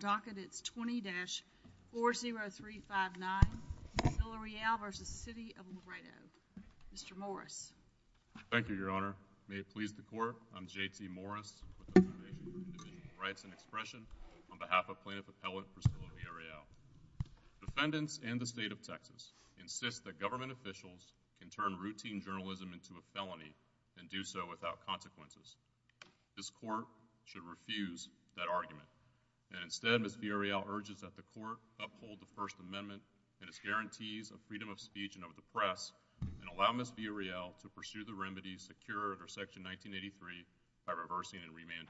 20-40359, Vilarreal v. City of Laredo. Mr. Morris. Thank you, Your Honor. May it please the Court, I'm J.P. Morris. I'm here to express an expression on behalf of Plaintiff Appellate for Vilarreal. Defendants and the State of Texas insist that government officials can turn routine journalism into a felony and do so without consequences. This Court should refuse that argument. Instead, Ms. Vilarreal urges that the Court uphold the First Amendment and its guarantees of freedom of speech and of the press and allow Ms. Vilarreal to pursue the remedies secured under Section 1983 by reversing and remand.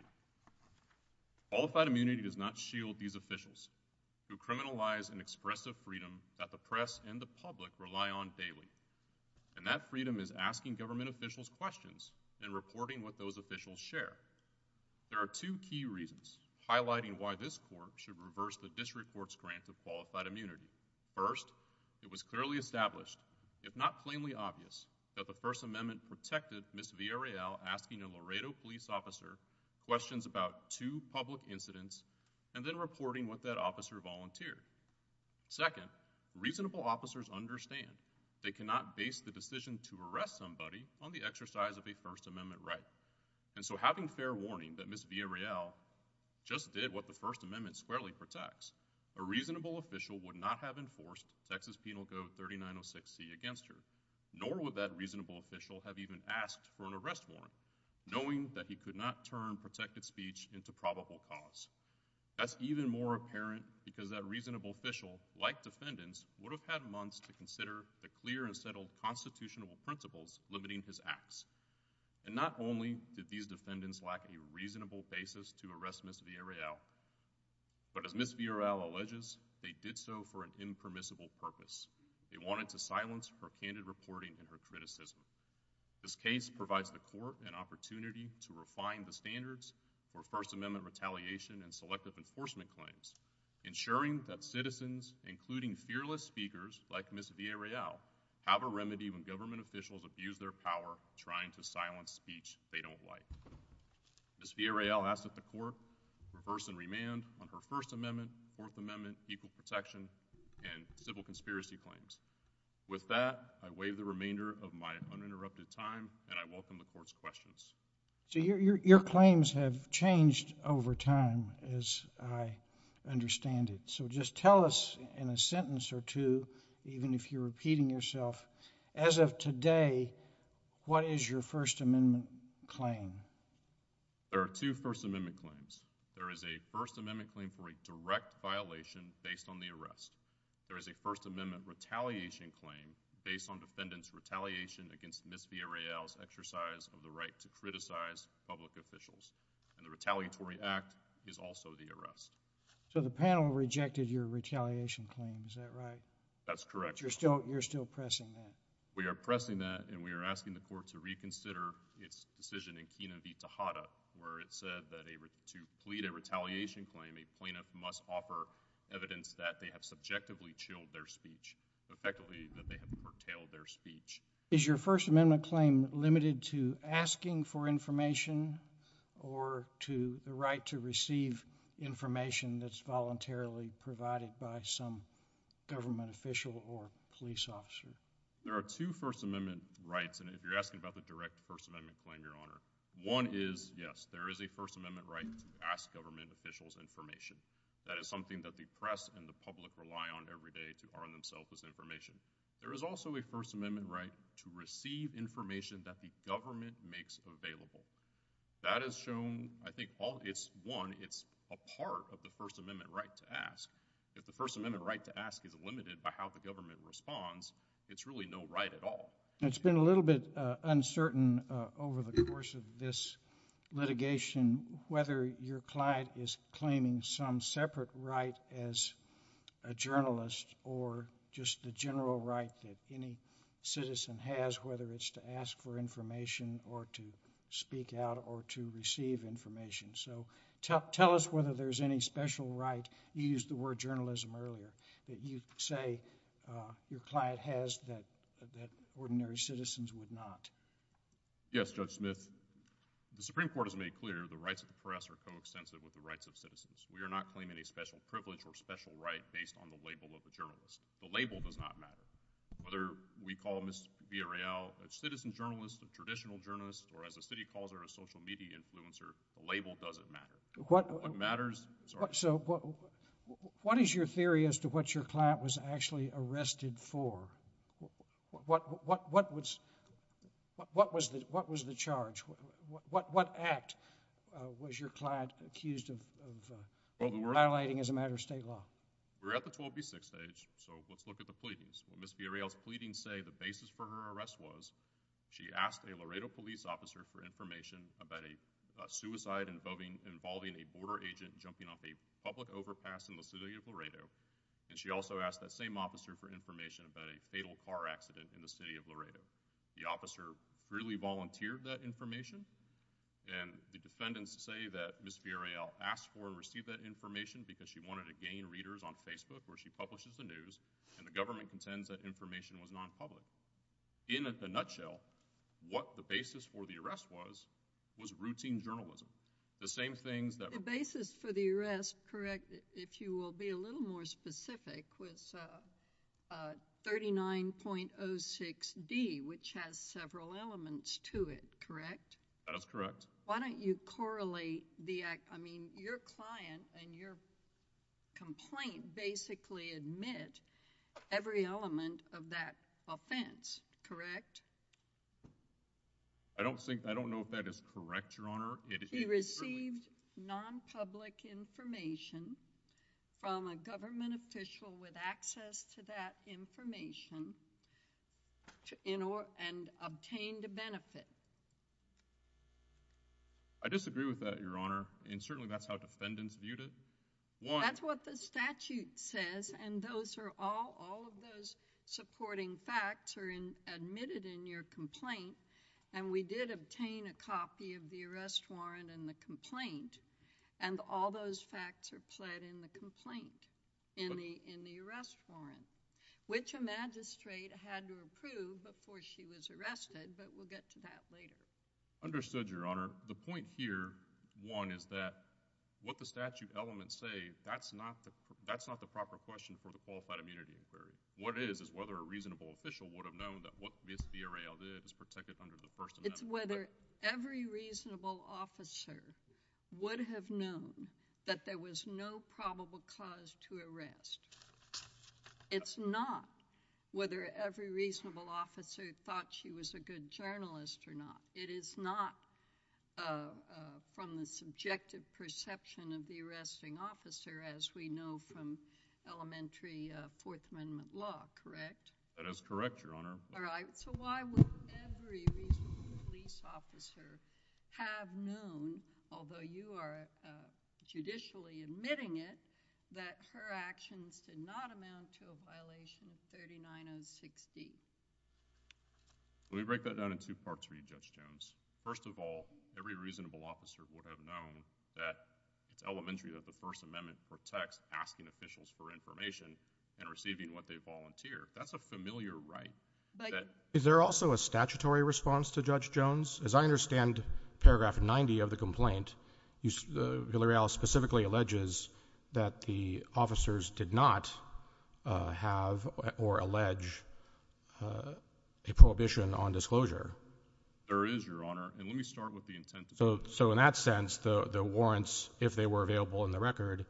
Qualified immunity does not shield these officials who criminalize an expressive freedom that the press and the public rely on daily. And that freedom is asking government officials questions and reporting what those officials share. There are two key reasons highlighting why this Court should reverse the District Court's grant for qualified immunity. First, it was clearly established, if not plainly obvious, that the First Amendment protected Ms. Vilarreal asking a Laredo police officer questions about two public incidents and then reporting what that officer volunteered. Second, reasonable officers understand they cannot base the decision to arrest somebody on the exercise of a First Amendment right. And so having fair warning that Ms. Vilarreal just did what the First Amendment squarely protects, a reasonable official would not have enforced Texas Penal Code 3906C against her, nor would that reasonable official have even asked for an arrest warrant, knowing that he could not turn protected speech into probable cause. That's even more apparent because that reasonable official, like defendants, would have had months to consider the clear and settled constitutional principles limiting his acts. And not only did these defendants lack a reasonable basis to arrest Ms. Vilarreal, but as Ms. Vilarreal alleges, they did so for an impermissible purpose. They wanted to silence propounded reporting and recruit assistance. This case provides the Court an opportunity to refine the standards for First Amendment retaliation and selective enforcement claims, ensuring that citizens, including fearless speakers like Ms. Vilarreal, have a remedy when government officials abuse their power trying to silence speech they don't like. Ms. Vilarreal asks that the Court reverse and remand on her First Amendment, Fourth Amendment, equal protection and civil conspiracy claims. With that, I waive the remainder of my uninterrupted time and I welcome the Court's questions. So your claims have changed over time, as I understand it. So just tell us in a sentence or two, even if you're repeating yourself, as of today, what is your First Amendment claim? There are two First Amendment claims. There is a First Amendment claim for a direct violation based on the arrest. There is a First Amendment retaliation claim based on defendants' retaliation against Ms. Vilarreal's exercise of the right to criticize public officials. And the retaliatory act is also the arrest. So the panel rejected your retaliation claim, is that right? That's correct. But you're still pressing that? We are pressing that and we are asking the Court to reconsider its decision in Pena v. Tejada, where it said that to plead a retaliation claim, a plaintiff must offer evidence that they have subjectively chilled their speech and effectively that they have curtailed their speech. Is your First Amendment claim limited to asking for information or to the right to receive information that's voluntarily provided by some government official or police officer? There are two First Amendment rights, and you're asking about the direct First Amendment claim, Your Honor. One is, yes, there is a First Amendment right to ask government officials information. That is something that the press and the public rely on every day to borrow themselves this information. There is also a First Amendment right to receive information that the government makes available. That is shown, I think, all, it's one, it's a part of the First Amendment right to ask. If the First Amendment right to ask is limited by how the government responds, it's really no right at all. It's been a little bit uncertain over the course of this litigation whether your client is claiming some separate right as a journalist or just the general right that any citizen has, whether it's to ask for information or to speak out or to receive information. So tell us whether there's any special right, you used the word journalism earlier, that you say your client has that ordinary citizens would not. Yes, Judge Smith. The Supreme Court has made clear the rights of the press are co-extensive with the rights of citizens. We are not claiming a special privilege or special right based on the label of the journalist. The label does not matter. Whether we call Mr. Villareal a citizen journalist, a traditional journalist, or as the city called her a social media influencer, the label doesn't matter. What matters is our... So what is your theory as to what your client was actually arrested for? What was the charge? What act was your client accused of violating as a matter of state law? We're at the 12B6 stage, so let's look at the pleadings. Ms. Villareal's pleadings say the basis for her arrest was she asked a Laredo police officer for information about a suicide involving a border agent jumping off a public overpass in the city of Laredo, and she also asked that same officer for information about a fatal car accident in the city of Laredo. The officer freely volunteered that information, and the defendants say that Ms. Villareal asked for or received that information because she wanted to gain readers on Facebook where she publishes the news, and the government contends that information was non-public. In a nutshell, what the basis for the arrest was was routine journalism. The basis for the arrest, correct, if you will be a little more specific, was 39.06D, which has several elements to it, correct? That's correct. Why don't you correlate the, I mean, your client and your complaint basically admit every element of that offense, correct? I don't think, I don't know if that is correct, Your Honor. She received non-public information from a government official with access to that information and obtained a benefit. That's what the statute says, and those are all, all of those supporting facts are admitted in your complaint, and we did obtain a copy of the arrest warrant and the complaint, and all those facts are pled in the complaint, in the arrest warrant, which a magistrate had to approve before she was arrested, but we'll get to that later. Understood, Your Honor. The point here, one, is that what the statute elements say, that's not the proper question for the Qualified Immunity Consideration. What it is, is whether a reasonable official would have known that what Ms. Villarreal did is protected under the First Amendment. It's whether every reasonable officer would have known that there was no probable cause to arrest. It's not whether every reasonable officer thought she was a good journalist or not. It is not from the subjective perception of the arresting officer, as we know from elementary Fourth Amendment law, correct? That is correct, Your Honor. All right, so why would every reasonable police officer have known, although you are judicially admitting it, that her actions did not amount to a violation of 3906B? Let me break that down in two parts for you, Judge Jones. First of all, every reasonable officer would have known that it's elementary that the First Amendment protects asking officials for information and receiving what they volunteer. That's a familiar right. Is there also a statutory response to Judge Jones? As I understand paragraph 90 of the complaint, Villarreal specifically alleges that the officers did not have or allege a prohibition on disclosure. There is, Your Honor. So in that sense, the warrants, if they were available in the record,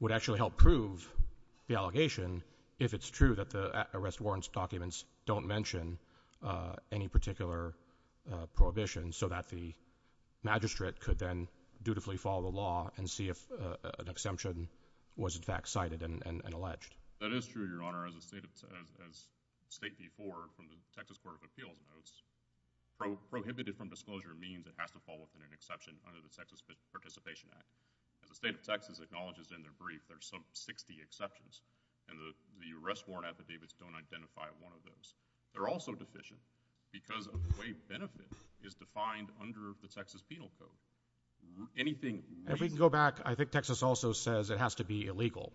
would actually help prove the allegation if it's true that the arrest warrants documents don't mention any particular prohibition so that the magistrate could then dutifully follow the law and see if an exemption was in fact cited and alleged. That is true, Your Honor. As State v. Ford from the Texas Court of Appeals notes, prohibited from disclosure means it has to fall within an exception under the Texas Participation Act. As the State of Texas acknowledges in their brief, there are some 60 exceptions, and the arrest warrant at the Davis don't identify one of those. They're also deficient because of the way benefit is defined under the Texas Penal Code. If we can go back, I think Texas also says it has to be illegal.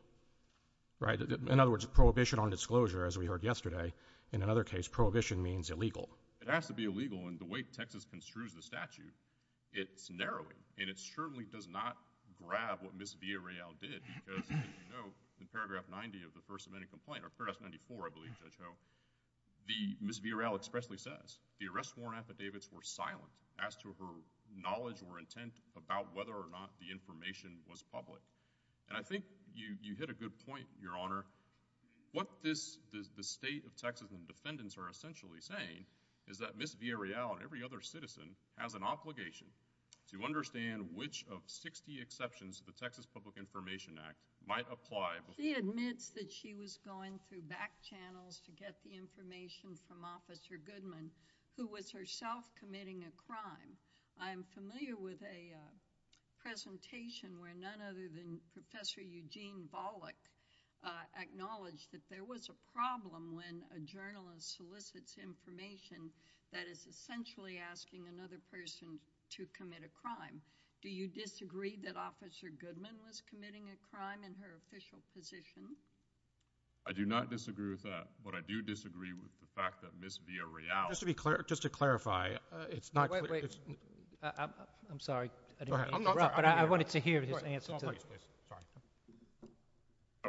In other words, prohibition on disclosure, as we heard yesterday, in another case, prohibition means illegal. It has to be illegal, and the way Texas construes the statute, it's narrowing. And it certainly does not grab what Ms. Villarreal did because, as you know, in paragraph 90 of the first amendment complaint, or paragraph 94, I believe, Ms. Villarreal expressly says the arrest warrant at the Davis were silent as to her knowledge or intent about whether or not the information was public. And I think you hit a good point, Your Honor. What the State of Texas and defendants are essentially saying is that Ms. Villarreal, and every other citizen, has an obligation to understand which of 60 exceptions to the Texas Public Information Act might apply. She admits that she was going through back channels to get the information from Officer Goodman, who was herself committing a crime. I'm familiar with a presentation where none other than Professor Eugene Bollock acknowledged that there was a problem when a journalist solicits information that is essentially asking another person to commit a crime. Do you disagree that Officer Goodman was committing a crime in her official position? I do not disagree with that, but I do disagree with the fact that Ms. Villarreal… Just to clarify, it's not… I'm sorry, but I wanted to hear the answer to this.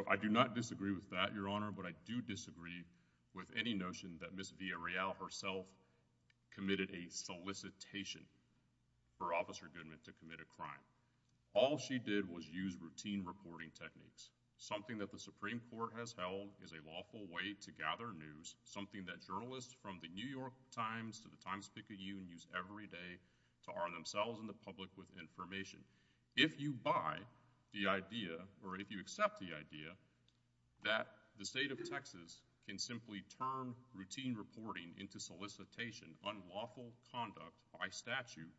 I do not disagree with that, Your Honor, but I do disagree with any notion that Ms. Villarreal herself committed a solicitation for Officer Goodman to commit a crime. All she did was use routine reporting techniques, something that the Supreme Court has held is a lawful way to gather news, something that journalists from the New York Times to the Times-Picayune use every day to arm themselves and the public with information. If you buy the idea, or if you accept the idea, that the state of Texas can simply turn routine reporting into solicitation, unlawful conduct by statute,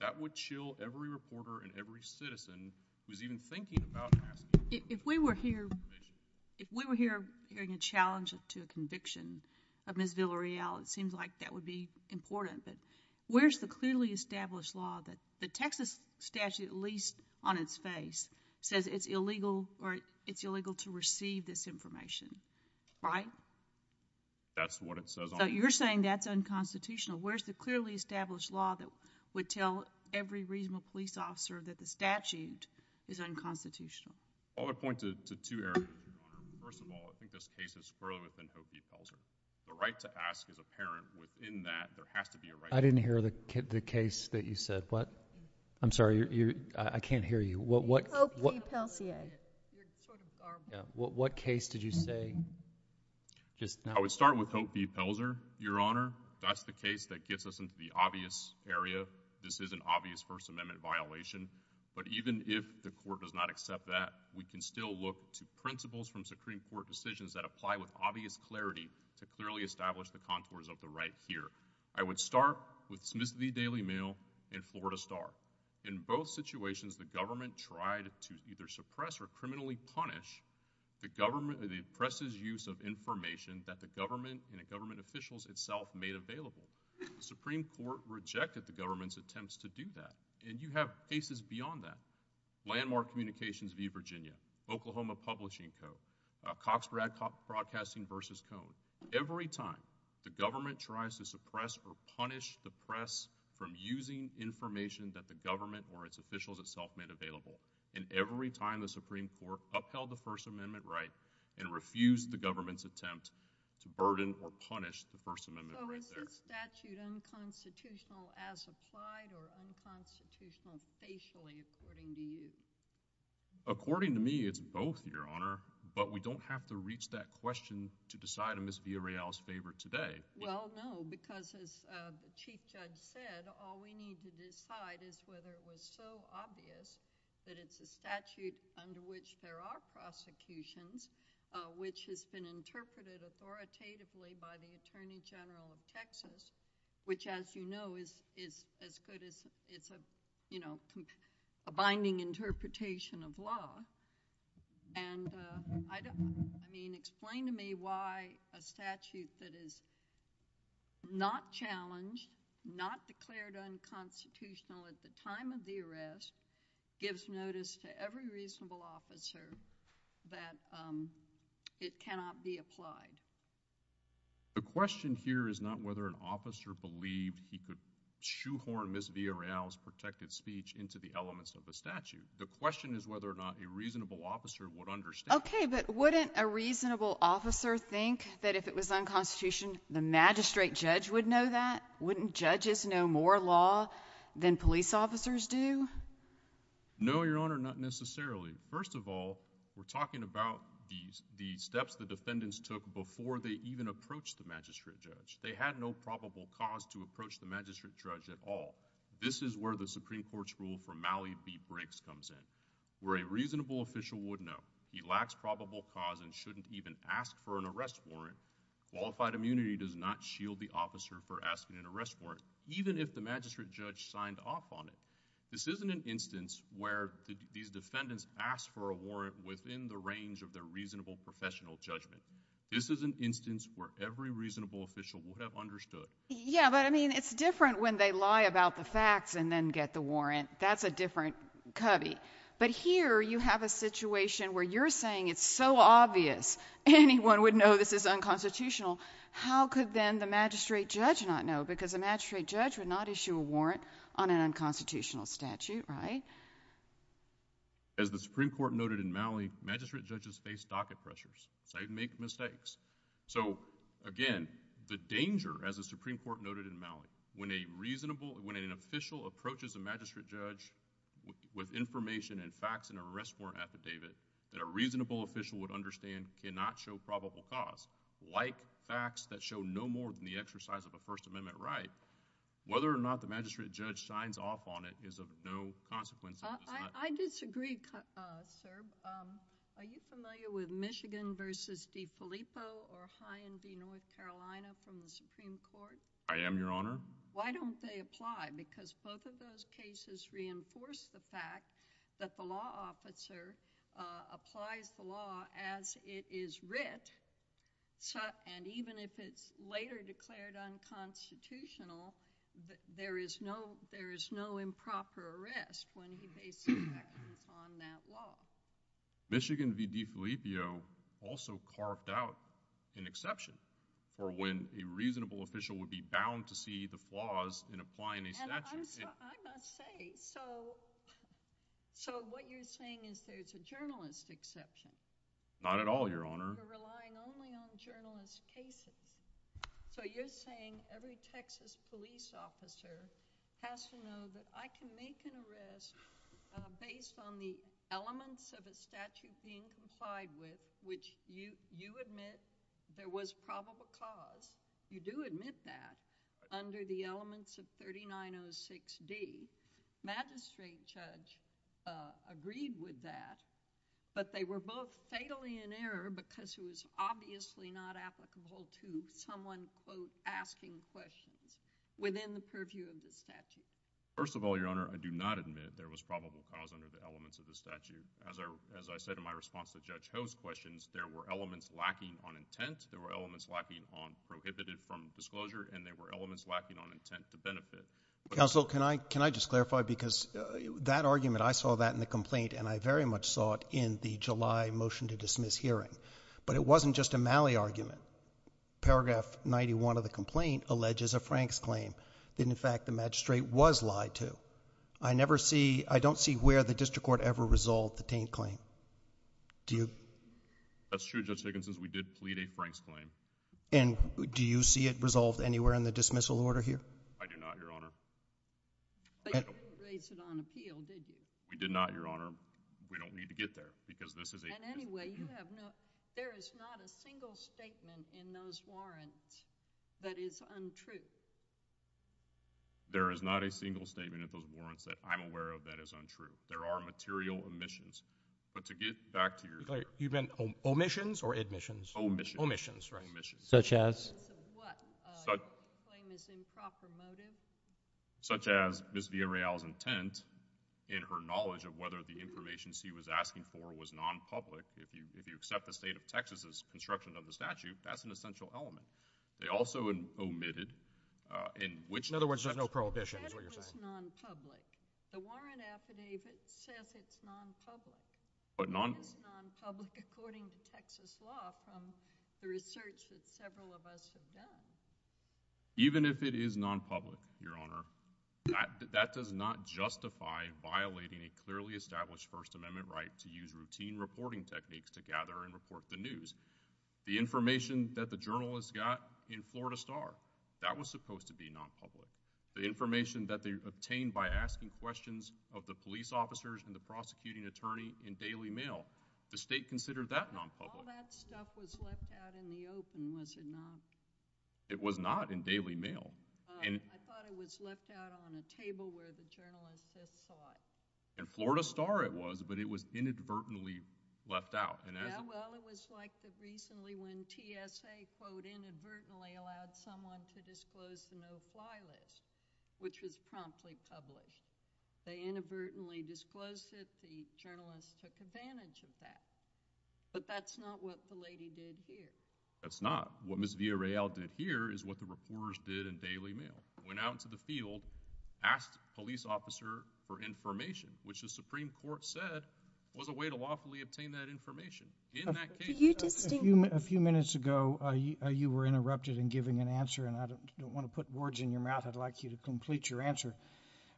that would chill every reporter and every citizen who's even thinking about that. If we were here hearing a challenge to a conviction of Ms. Villarreal, it seems like that would be important. But where's the clearly established law that the Texas statute, at least on its face, says it's illegal to receive this information, right? That's what it says on it. So you're saying that's unconstitutional. Where's the clearly established law that would tell every reasonable police officer that the statute is unconstitutional? I would point to two areas. First of all, I think this case is further than Hope v. Pelzer. The right to ask is apparent. Within that, there has to be a right to ask. I didn't hear the case that you said. What? I'm sorry, I can't hear you. Hope v. Pelzier. What case did you say? I would start with Hope v. Pelzer, Your Honor. That's the case that gets us into the obvious area. This is an obvious First Amendment violation. But even if the court does not accept that, we can still look to principles from Supreme Court decisions that apply with obvious clarity to clearly establish the contours of the right here. I would start with Smith v. Daily Mail and Florida Star. In both situations, the government tried to either suppress or criminally punish the government for the oppressive use of information that the government and the government officials itself made available. The Supreme Court rejected the government's attempts to do that, and you have cases beyond that. Landmark Communications v. Virginia, Oklahoma Publishing Co., Cox Broadcasting v. Cohn. Every time the government tries to suppress or punish the press from using information that the government or its officials itself made available, and every time the Supreme Court upheld the First Amendment right and refused the government's attempt to burden or punish the First Amendment right there. So is this statute unconstitutional as applied or unconstitutional spatially according to you? According to me, it's both, Your Honor, but we don't have to reach that question to decide in Ms. Villarreal's favor today. Well, no, because as the Chief Judge said, all we need to decide is whether it was so obvious that it's a statute under which there are prosecutions, which has been interpreted authoritatively by the Attorney General of Texas, which, as you know, is as good as, you know, a binding interpretation of law. And explain to me why a statute that is not challenged, not declared unconstitutional at the time of the arrest, gives notice to every reasonable officer that it cannot be applied. The question here is not whether an officer believed he could shoehorn Ms. Villarreal's protected speech into the elements of the statute. The question is whether or not a reasonable officer would understand. Okay, but wouldn't a reasonable officer think that if it was unconstitutional, the magistrate judge would know that? Wouldn't judges know more law than police officers do? No, Your Honor, not necessarily. First of all, we're talking about the steps the defendants took before they even approached the magistrate judge. They had no probable cause to approach the magistrate judge at all. This is where the Supreme Court's rule for Malley v. Briggs comes in, where a reasonable official would know. He lacks probable cause and shouldn't even ask for an arrest warrant. Qualified immunity does not shield the officer for asking an arrest warrant, even if the magistrate judge signed off on it. This isn't an instance where the defendants asked for a warrant within the range of their reasonable professional judgment. This is an instance where every reasonable official would have understood. Yeah, but, I mean, it's different when they lie about the facts and then get the warrant. That's a different cubby. But here you have a situation where you're saying it's so obvious anyone would know this is unconstitutional. How could then the magistrate judge not know? Because the magistrate judge would not issue a warrant on an unconstitutional statute, right? As the Supreme Court noted in Malley, magistrate judges face docket pressures. They make mistakes. So, again, the danger, as the Supreme Court noted in Malley, when an official approaches a magistrate judge with information and facts and an arrest warrant affidavit that a reasonable official would understand cannot show probable cause, like facts that show no more than the exercise of the First Amendment right, whether or not the magistrate judge signs off on it is of no consequence. I disagree, sir. Are you familiar with Michigan v. DeFilippo or High and Dee, North Carolina from the Supreme Court? I am, Your Honor. Why don't they apply? Because both of those cases reinforce the fact that the law officer applied for law as it is writ, and even if it's later declared unconstitutional, there is no improper arrest when behaving on that law. Michigan v. DeFilippo also carved out an exception for when a reasonable official would be bound to see the flaws in applying a statute. I must say, so what you're saying is there's a journalist exception? Not at all, Your Honor. You're relying only on journalist cases. So you're saying every Texas police officer has to know that I can make an arrest based on the elements of a statute being complied with, which you admit there was probable cause. You do admit that under the elements of 3906D. The magistrate judge agreed with that, but they were both fatally in error because it was obviously not applicable to someone both asking questions within the purview of the statute. First of all, Your Honor, I do not admit there was probable cause under the elements of the statute. As I said in my response to Judge Ho's questions, there were elements lacking on intent, there were elements lacking on prohibited from disclosure, and there were elements lacking on intent to benefit. Counsel, can I just clarify? Because that argument, I saw that in the complaint, and I very much saw it in the July motion to dismiss hearing. But it wasn't just a Malley argument. Paragraph 91 of the complaint alleges a Franks claim. In fact, the magistrate was lied to. I don't see where the district court ever resolved the Taint claim. That's true, Justice Nicholson. We did plead a Franks claim. And do you see it resolved anywhere in the dismissal order here? I do not, Your Honor. But you did raise it on appeal, didn't you? We did not, Your Honor. We don't need to get there because this is a— And anyway, you have no—there is not a single statement in those warrants that is untrue. There is not a single statement in those warrants that I'm aware of that is untrue. There are material omissions. But to get back to your— Wait, you meant omissions or admissions? Omissions. Omissions, right. Such as? Such as what? Such— A claim that's improper motive? Such as Ms. Villarreal's intent in her knowledge of whether the information she was asking for was nonpublic. If you accept the state of Texas's construction of the statute, that's an essential element. They also omitted in which— In other words, there's no prohibition, is what you're saying? The statute is nonpublic. The warrant affidavit says it's nonpublic. But non— Even if it is nonpublic, according to Texas law, from the research that several of us have done— Even if it is nonpublic, Your Honor, that does not justify violating a clearly established First Amendment right to use routine reporting techniques to gather and report the news. The information that the journalists got in Florida Star, that was supposed to be nonpublic. The information that they obtained by asking questions of the police officers and the prosecuting attorney in daily mail. The state considered that nonpublic. All that stuff was left out in the open, was it not? It was not in daily mail. I thought it was left out on a table where the journalists could talk. In Florida Star it was, but it was inadvertently left out. Yeah, well, it was like recently when TSA, quote, inadvertently allowed someone to disclose the no-fly list, which was promptly published. They inadvertently disclosed it, the journalists took advantage of that. But that's not what the lady did here. That's not. What Ms. Villareal did here is what the reporters did in daily mail. Went out into the field, asked a police officer for information, which the Supreme Court said was a way to lawfully obtain that information. A few minutes ago you were interrupted in giving an answer, and I don't want to put words in your mouth. I'd like you to complete your answer.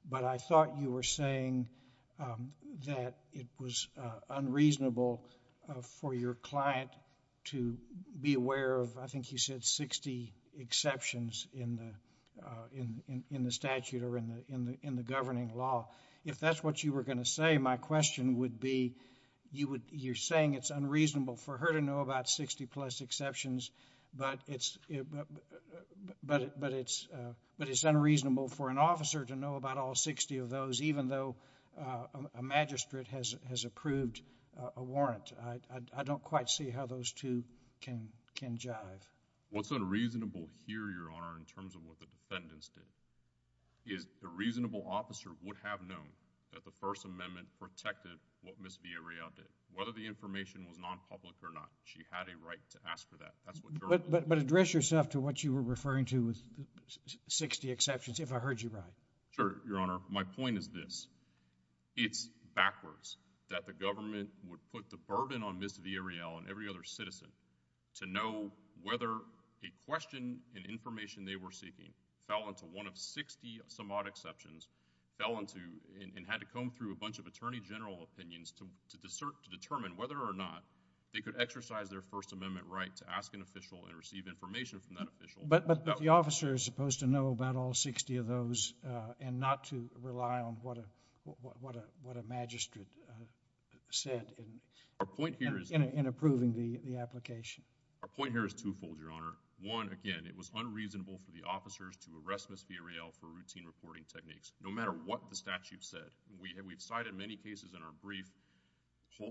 But I thought you were saying that it was unreasonable for your client to be aware of, I think you said, 60 exceptions in the statute or in the governing law. If that's what you were going to say, my question would be, you're saying it's unreasonable for her to know about 60-plus exceptions, but it's unreasonable for an officer to know about all 60 of those, even though a magistrate has approved a warrant. I don't quite see how those two can jive. What's unreasonable here, Your Honor, in terms of what the defendants did, is a reasonable officer would have known that the First Amendment protected what Ms. Villareal did. Whether the information was non-public or not, she had a right to ask for that. But address yourself to what you were referring to with 60 exceptions, if I heard you right. Sure, Your Honor. My point is this. It's backwards that the government would put the burden on Ms. Villareal and every other citizen to know whether a question and information they were seeking fell into one of 60-some-odd exceptions, fell into and had to comb through a bunch of attorney general opinions to determine whether or not they could exercise their First Amendment right to ask an official and receive information from that official. But the officer is supposed to know about all 60 of those and not to rely on what a magistrate said in approving the application. Our point here is twofold, Your Honor. One, again, it was unreasonable for the officers to arrest Ms. Villareal for routine reporting techniques, no matter what the statute said. We've cited many cases in our brief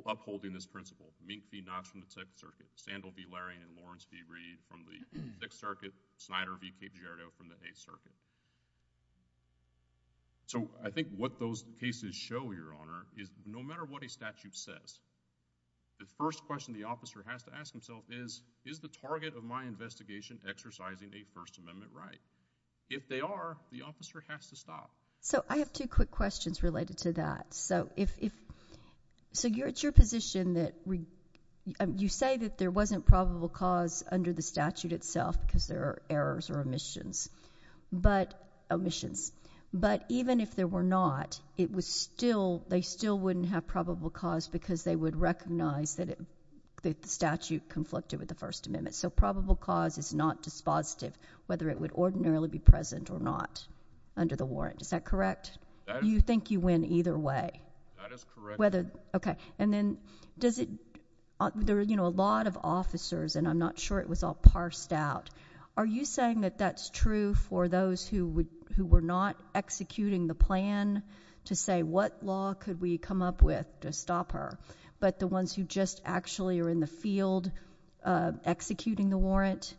upholding this principle. Mink v. Knox from the Sixth Circuit. Sandal v. Larry and Lawrence v. Reed from the Sixth Circuit. Snyder v. Piperiero from the Eighth Circuit. So I think what those cases show, Your Honor, is no matter what a statute says, the first question the officer has to ask himself is, is the target of my investigation exercising a First Amendment right? If they are, the officer has to stop. So I have two quick questions related to that. So it's your position that you say that there wasn't probable cause under the statute itself because there are errors or omissions. But even if there were not, they still wouldn't have probable cause because they would recognize that the statute conflicted with the First Amendment. So probable cause is not dispositive, whether it would ordinarily be present or not under the warrant. Is that correct? Do you think you win either way? That is correct. Okay. And then there are a lot of officers, and I'm not sure it was all parsed out. Are you saying that that's true for those who were not executing the plan to say what law could we come up with to stop her, but the ones who just actually are in the field executing the warrant,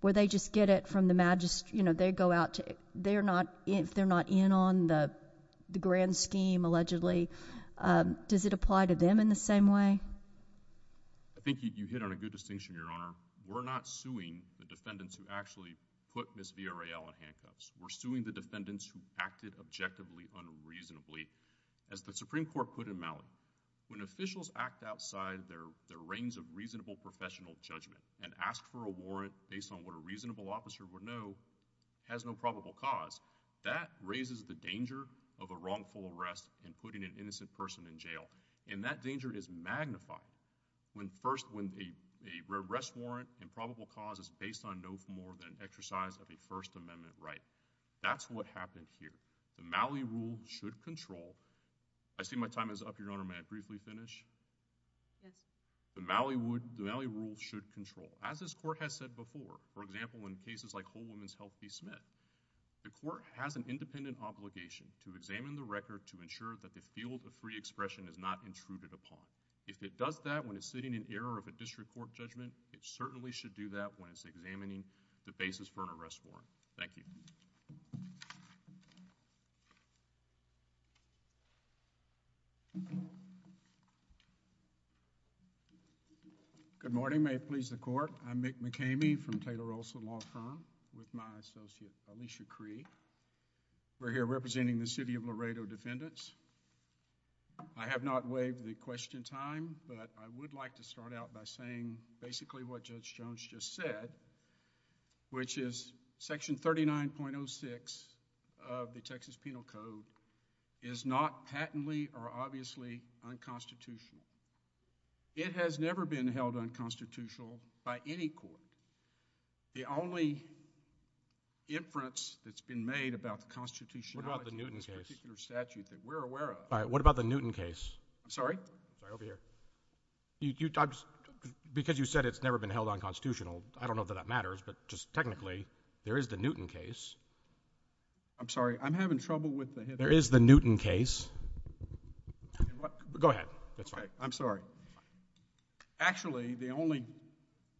where they just get it from the magistrate, you know, they go out, they're not in on the grand scheme allegedly. Does it apply to them in the same way? I think you hit on a good distinction, Your Honor. We're not suing the defendants who actually put Ms. Villarreal in handcuffs. We're suing the defendants who acted objectively unreasonably. As the Supreme Court put in Malley, when officials act outside their range of reasonable professional judgment and ask for a warrant based on what a reasonable officer would know has no probable cause, that raises the danger of a wrongful arrest and putting an innocent person in jail. And that danger is magnified when first when the arrest warrant and probable cause is based on no more than exercise of a First Amendment right. That's what happened here. The Malley rule should control—I see my time is up, Your Honor. May I briefly finish? Yes. The Malley rule should control. As this Court has said before, for example, in cases like Whole Woman's Health v. Smith, the Court has an independent obligation to examine the record to ensure that the field of free expression is not intruded upon. If it does that when it's sitting in error of a district court judgment, it certainly should do that when it's examining the basis for an arrest warrant. Thank you. Thank you. Good morning. May it please the Court. I'm Mick McKamey from Taylor Olson Law Firm with my associate Alicia Creed. We're here representing the City of Laredo defendants. I have not waived the question time, but I would like to start out by saying basically what Judge Jones just said, which is Section 39.06 of the Texas Penal Code is not patently or obviously unconstitutional. It has never been held unconstitutional by any court. The only inference that's been made about the constitutionality of this particular statute that we're aware of— What about the Newton case? I'm sorry? Right over here. Because you said it's never been held unconstitutional. I don't know that that matters, but just technically there is the Newton case. I'm sorry. I'm having trouble with the— There is the Newton case. Go ahead. I'm sorry. Actually, the only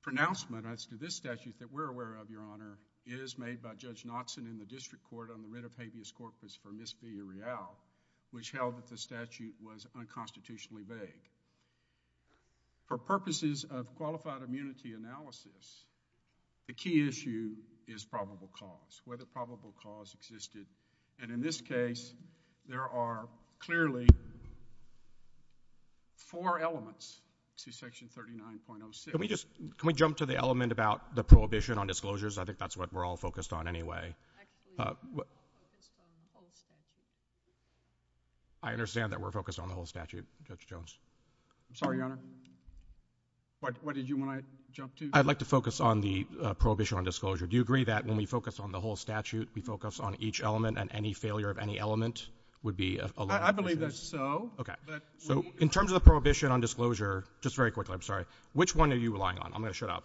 pronouncement as to this statute that we're aware of, Your Honor, is made by Judge Knoxon in the District Court on the writ of habeas corpus for misdemeanor real, which held that the statute was unconstitutionally vague. For purposes of qualified immunity analysis, the key issue is probable cause, whether probable cause existed. And in this case, there are clearly four elements to Section 39.06. Can we jump to the element about the prohibition on disclosures? I think that's what we're all focused on anyway. I understand that we're focused on the whole statute, Judge Jones. I'm sorry, Your Honor? What did you want to jump to? I'd like to focus on the prohibition on disclosure. Do you agree that when we focus on the whole statute, we focus on each element, and any failure of any element would be a— I believe that's so. Okay. In terms of the prohibition on disclosure, just very quickly, I'm sorry, which one are you relying on? I'm going to shut up.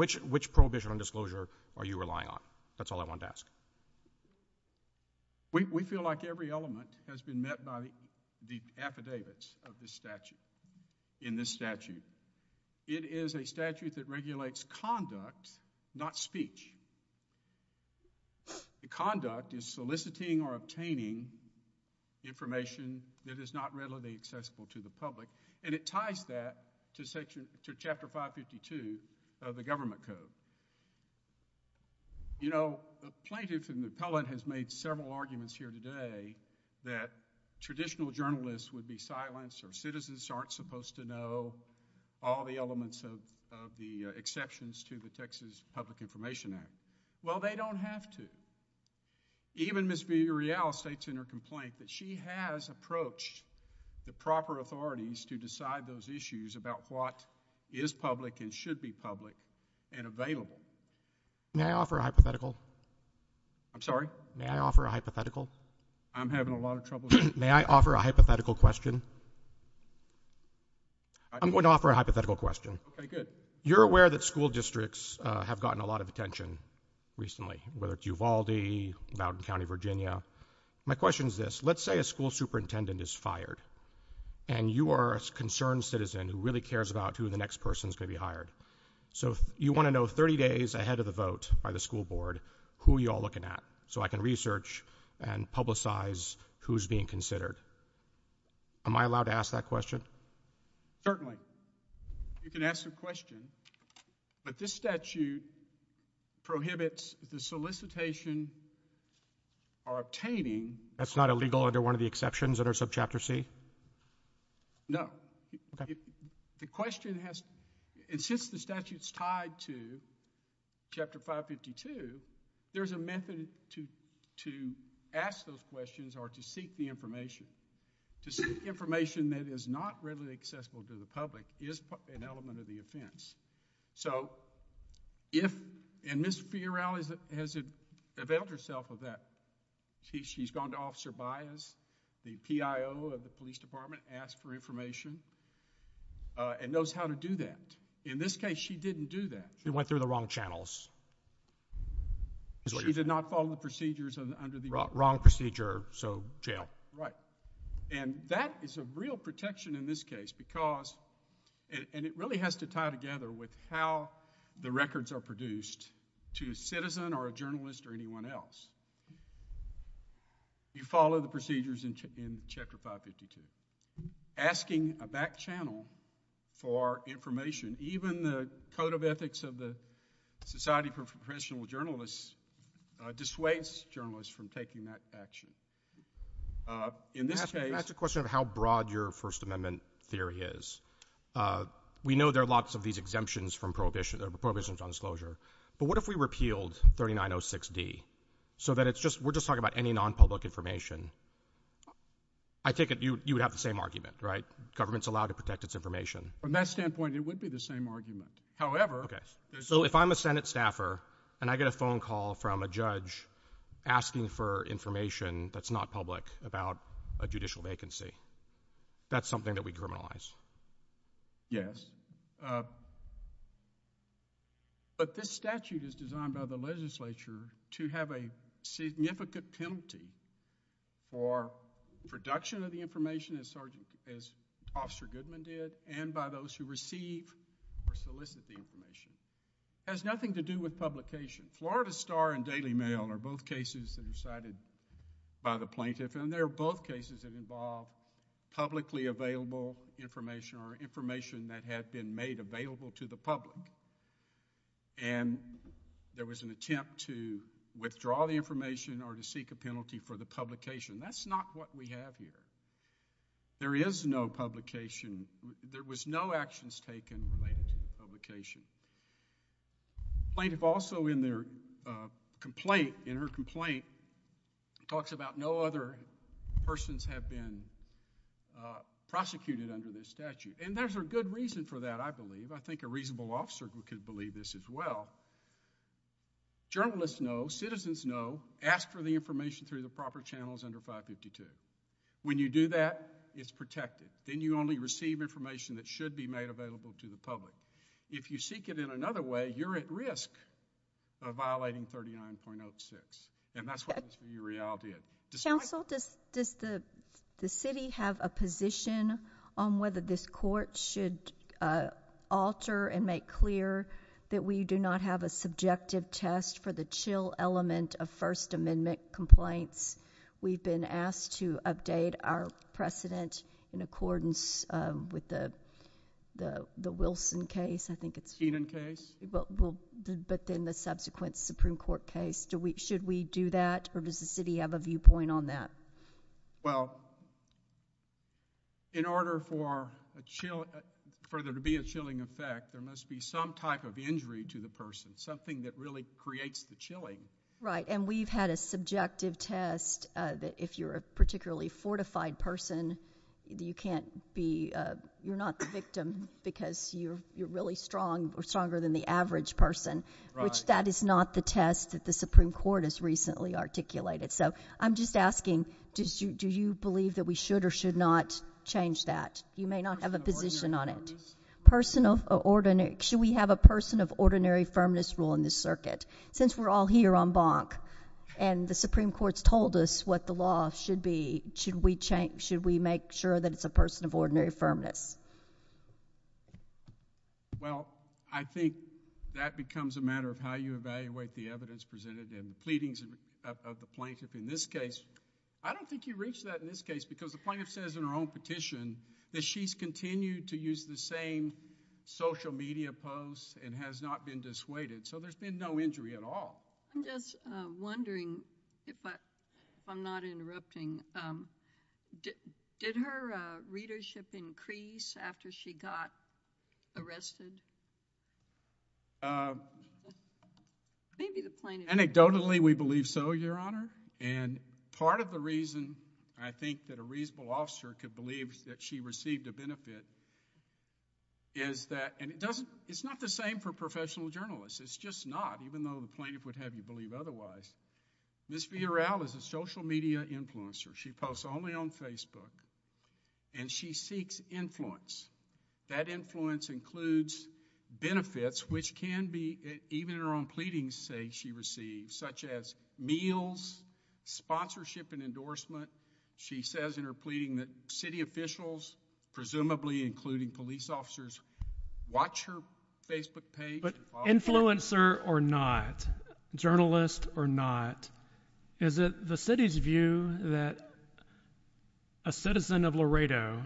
Which prohibition on disclosure are you relying on? That's all I wanted to ask. We feel like every element has been met by the affidavits of this statute, in this statute. It is a statute that regulates conduct, not speech. Conduct is soliciting or obtaining information that is not readily accessible to the public, and it ties that to Chapter 552 of the Government Code. You know, the plaintiff and the appellant have made several arguments here today that traditional journalists would be silenced or citizens aren't supposed to know all the elements of the exceptions to the Texas Public Information Act. Well, they don't have to. Even Ms. Villarreal states in her complaint that she has approached the proper authorities to decide those issues about what is public and should be public and available. May I offer a hypothetical? I'm sorry? May I offer a hypothetical? I'm having a lot of trouble— May I offer a hypothetical question? I'm going to offer a hypothetical question. Okay, good. You're aware that school districts have gotten a lot of attention recently, whether it's Uvalde, Mountain County, Virginia. My question is this. Let's say a school superintendent is fired, and you are a concerned citizen who really cares about who the next person is going to be hired. So you want to know 30 days ahead of the vote by the school board who you're looking at so I can research and publicize who's being considered. Am I allowed to ask that question? Certainly. You can ask the question. But this statute prohibits the solicitation or obtaining— That's not illegal under one of the exceptions that are subchapter C? No. Okay. The question has—and since the statute's tied to chapter 552, there's a method to ask those questions or to seek the information. To seek information that is not readily accessible to the public is an element of the offense. So if—and Ms. Fiorile has availed herself of that. She's gone to Officer Baez, the PIO of the police department, asked for information and knows how to do that. In this case, she didn't do that. She went through the wrong channels. She did not follow the procedures under the— Wrong procedure, so jail. Right. And that is a real protection in this case because— with how the records are produced to a citizen or a journalist or anyone else. You follow the procedures in chapter 552. Asking a back channel for information, even the Code of Ethics of the Society for Professional Journalists, dissuades journalists from taking that action. In this case— Can I ask a question of how broad your First Amendment theory is? We know there are lots of these exemptions from prohibitions on disclosure, but what if we repealed 3906D so that it's just— we're just talking about any non-public information? I take it you would have the same argument, right? Government's allowed to protect its information. From that standpoint, it would be the same argument. However— Okay. So if I'm a Senate staffer and I get a phone call from a judge asking for information that's not public about a judicial vacancy, that's something that we criminalize? Yes. But this statute is designed by the legislature to have a significant penalty for production of the information, as Officer Goodman did, and by those who receive or solicit the information. It has nothing to do with publication. Florida Star and Daily Mail are both cases that are decided by the plaintiff, and they're both cases that involve publicly available information or information that had been made available to the public. And there was an attempt to withdraw the information or to seek a penalty for the publication. That's not what we have here. There is no publication. There was no actions taken related to the publication. The plaintiff also, in their complaint, talks about no other persons have been prosecuted under this statute. And there's a good reason for that, I believe. I think a reasonable officer could believe this as well. Journalists know, citizens know, after the information through the proper channels under 552. When you do that, it's protected. Then you only receive information that should be made available to the public. If you seek it in another way, you're at risk of violating 39.06. And that's what Ms. Muriel did. Counsel, does the city have a position on whether this court should alter and make clear that we do not have a subjective test for the chill element of First Amendment complaints? We've been asked to update our precedent in accordance with the Wilson case, I think it's. Eden case. But then the subsequent Supreme Court case. Should we do that, or does the city have a viewpoint on that? Well, in order for there to be a chilling effect, there must be some type of injury to the person, something that really creates the chilling. Right, and we've had a subjective test that if you're a particularly fortified person, you can't be, you're not the victim because you're really strong or stronger than the average person, which that is not the test that the Supreme Court has recently articulated. So I'm just asking, do you believe that we should or should not change that? You may not have a position on it. Should we have a person of ordinary firmness rule in this circuit? Since we're all here on bonk, and the Supreme Court's told us what the law should be, should we make sure that it's a person of ordinary firmness? Well, I think that becomes a matter of how you evaluate the evidence presented in the pleadings of the plaintiff in this case. I don't think you reach that in this case because the plaintiff says in her own petition that she's continued to use the same social media posts and has not been dissuaded. So there's been no injury at all. I'm just wondering, if I'm not interrupting, did her readership increase after she got arrested? Maybe the plaintiff... Anecdotally, we believe so, Your Honor, and part of the reason I think that a reasonable officer could believe that she received a benefit is that, and it's not the same for professional journalists. It's just not, even though the plaintiff would have you believe otherwise. Ms. Villarreal is a social media influencer. She posts only on Facebook, and she seeks influence. That influence includes benefits, which can be even in her own pleadings say she received, such as meals, sponsorship and endorsement. She says in her pleading that city officials, presumably including police officers, watch her Facebook page. But influencer or not, journalist or not, is it the city's view that a citizen of Laredo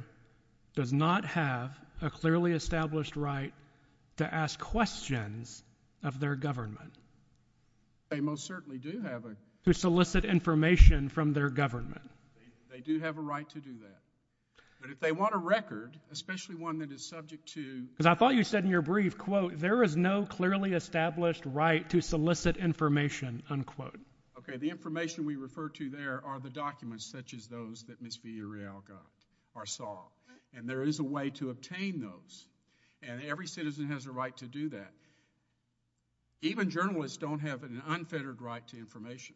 does not have a clearly established right to ask questions of their government? They most certainly do have a... To solicit information from their government. They do have a right to do that. But if they want a record, especially one that is subject to... Because I thought you said in your brief, quote, there is no clearly established right to solicit information, unquote. Okay, the information we refer to there are the documents such as those that Ms. Villarreal got or saw, and there is a way to obtain those, and every citizen has a right to do that. Even journalists don't have an unfettered right to information.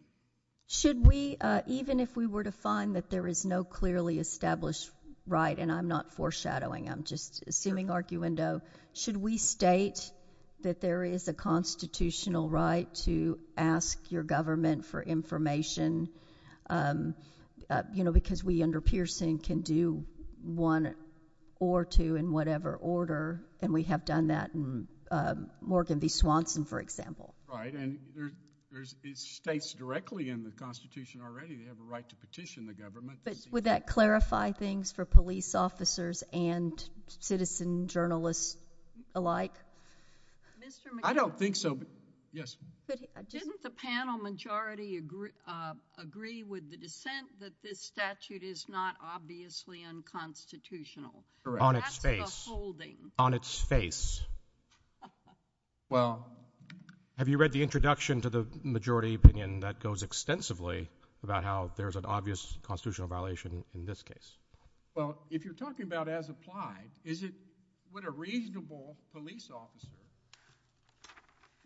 Should we, even if we were to find that there is no clearly established right, and I'm not foreshadowing, I'm just assuming arguendo, should we state that there is a constitutional right to ask your government for information, because we under Pearson can do one or two in whatever order, and we have done that in Morgan v. Swanson, for example? Right, and it states directly in the Constitution already that you have a right to petition the government. But would that clarify things for police officers and citizen journalists alike? I don't think so. Didn't the panel majority agree with the dissent that this statute is not obviously unconstitutional? On its face. On its face. Well... Have you read the introduction to the majority opinion that goes extensively about how there's an obvious constitutional violation in this case? Well, if you're talking about as applied, is it what a reasonable police officer...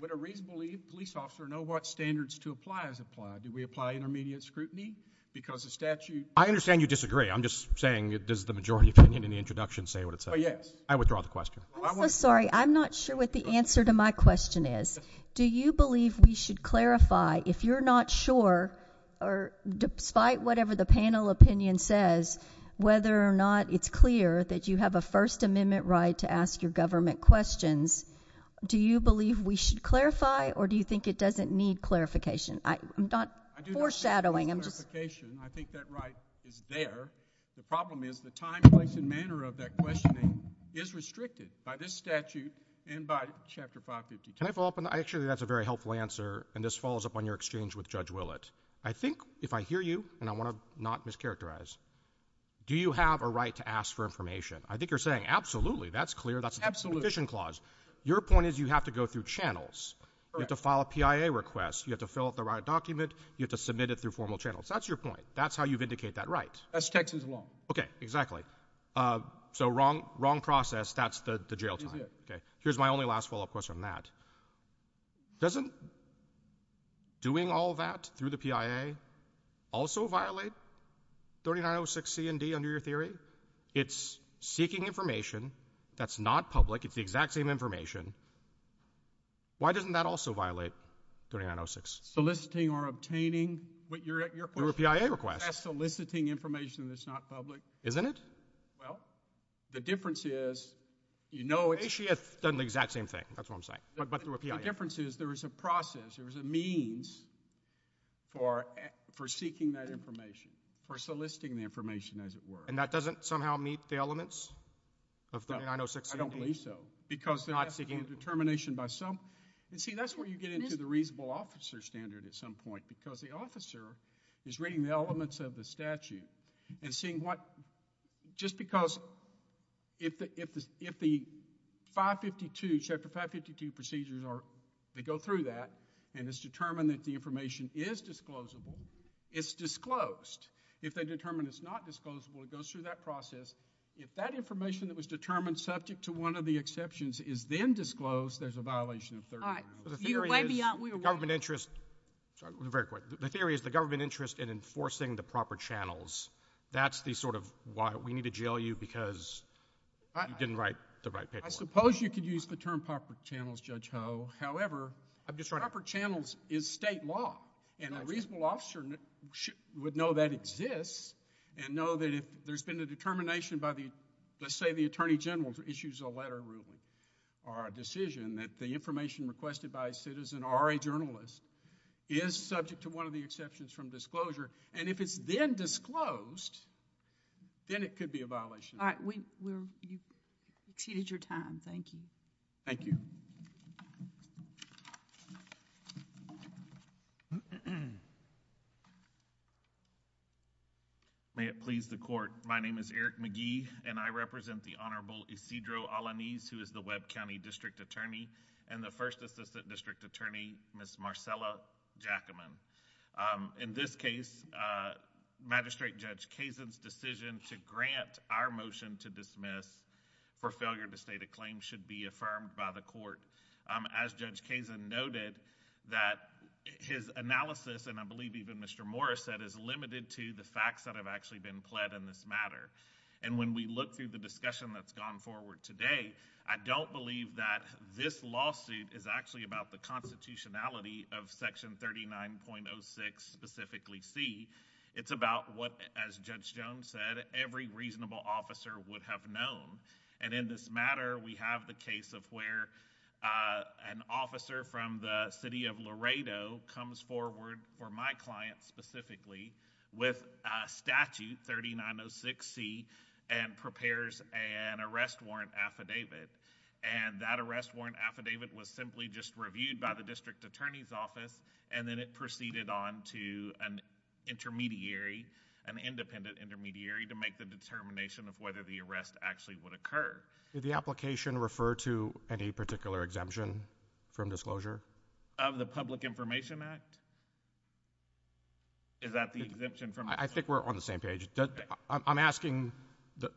Would a reasonable police officer know what standards to apply as applied? Do we apply intermediate scrutiny because the statute... I understand you disagree. I'm just saying, does the majority opinion in the introduction say what it says? Oh, yes. I withdraw the question. Sorry, I'm not sure what the answer to my question is. Do you believe we should clarify, if you're not sure, or despite whatever the panel opinion says, whether or not it's clear that you have a First Amendment right to ask your government questions, do you believe we should clarify or do you think it doesn't need clarification? I'm not foreshadowing. I think that right is there. The problem is the time, place, and manner of that questioning is restricted by this statute and by Chapter 552. Can I follow up? I assure you that's a very helpful answer, and this follows up on your exchange with Judge Willett. I think, if I hear you, and I want to not mischaracterize, do you have a right to ask for information? I think you're saying, absolutely, that's clear. That's an abolition clause. Your point is you have to go through channels. You have to file a PIA request. You have to fill out the right document. You have to submit it through formal channels. That's your point. That's how you vindicate that right. That's Texas law. Okay, exactly. So wrong process, that's the jail time. Okay, here's my only last follow-up question on that. Doesn't doing all that through the PIA also violate 3906C and D under your theory? It's seeking information that's not public. It's the exact same information. Why doesn't that also violate 3906? Soliciting or obtaining what you're at your request. Your PIA request. That's soliciting information that's not public. Isn't it? Well, the difference is, you know, it actually doesn't do the exact same thing. That's what I'm saying. The difference is there is a process, there is a means for seeking that information, for soliciting the information, as it were. And that doesn't somehow meet the elements of 3906? I don't believe so. Because there has to be determination by some. You see, that's where you get into the reasonable officer standard at some point, because the officer is reading the elements of the statute and seeing what, just because, if the 552, chapter 552 procedures are, they go through that, and it's determined that the information is disclosable, it's disclosed. If they determine it's not disclosable, it goes through that process. If that information that was determined subject to one of the exceptions is then disclosed, there's a violation of 3906. All right. You're way beyond what we want. The theory is, government interest, sorry, very quick. The theory is the government interest in enforcing the proper channels. That's the sort of why we need to jail you because you didn't write the right paperwork. I suppose you could use the term proper channels, Judge Ho. However, proper channels is state law, and a reasonable officer would know that exists and know that if there's been a determination by, let's say, the attorney general who issues a letter or a decision that the information requested by a citizen or a journalist is subject to one of the exceptions from disclosure. And if it's then disclosed, then it could be a violation. All right. Well, you've exceeded your time. Thank you. Thank you. May it please the court. My name is Eric McGee, and I represent the Honorable Isidro Alaniz, who is the Webb County District Attorney and the First Assistant District Attorney, Ms. Marcella Jackaman. In this case, Magistrate Judge Kazin's decision to grant our motion to dismiss for failure to state a claim should be affirmed by the court. As Judge Kazin noted, that his analysis, and I believe even Mr. Morris said, is limited to the facts that have actually been fled in this matter. And when we look through the discussion that's gone forward today, I don't believe that this lawsuit is actually about the constitutionality of Section 39.06, specifically C. It's about what, as Judge Jones said, every reasonable officer would have known. And in this matter, we have the case of where an officer from the city of Laredo comes forward for my client specifically with Statute 3906C and prepares an arrest warrant affidavit. And that arrest warrant affidavit was simply just reviewed by the District Attorney's Office and then it proceeded on to an intermediary, an independent intermediary, to make the determination of whether the arrest actually would occur. Did the application refer to any particular exemption from disclosure? Of the Public Information Act? Is that the exemption from... I think we're on the same page. I'm asking,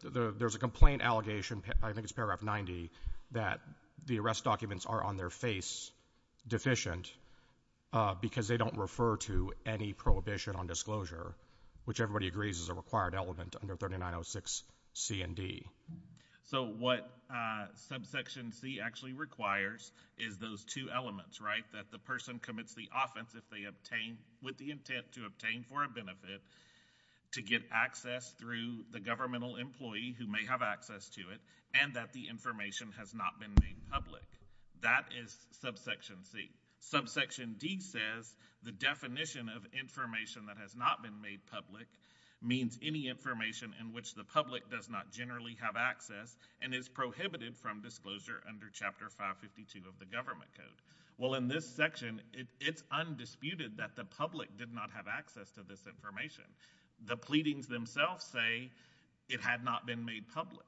there's a complaint allegation, I think it's paragraph 90, that the arrest documents are on their face deficient because they don't refer to any prohibition on disclosure, which everybody agrees is a required element under 3906C and D. So what Subsection C actually requires is those two elements, right? That the person commits the offense with the intent to obtain for a benefit to get access through the governmental employee who may have access to it, and that the information has not been made public. That is Subsection C. Subsection D says, the definition of information that has not been made public means any information in which the public does not generally have access and is prohibited from disclosure under Chapter 552 of the Government Code. Well, in this section, it's undisputed that the public did not have access to this information. The pleadings themselves say it had not been made public.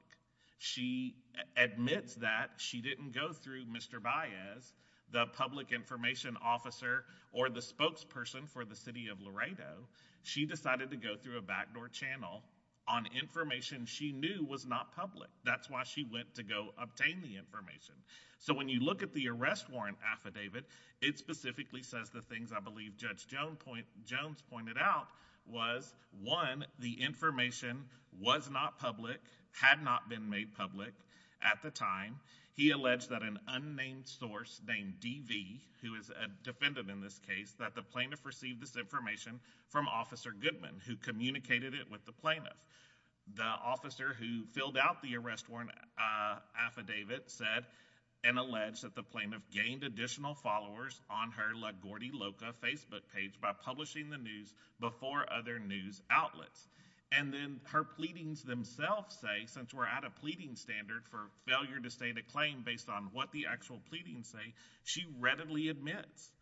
She admits that she didn't go through Mr. Baez, the public information officer or the spokesperson for the city of Laredo. She decided to go through a backdoor channel on information she knew was not public. That's why she went to go obtain the information. So when you look at the arrest warrant affidavit, it specifically says the things I believe Judge Jones pointed out was, one, the information was not public, had not been made public at the time. He alleged that an unnamed source named DV, who is a defendant in this case, that the plaintiff received this information from Officer Goodman, who communicated it with the plaintiff. The officer who filled out the arrest warrant affidavit said and alleged that the plaintiff gained additional followers on her LaGuardia Loca Facebook page by publishing the news before other news outlets. And then her pleadings themselves say, since we're at a pleading standard for failure to state a claim based on what the actual pleadings say, she readily admits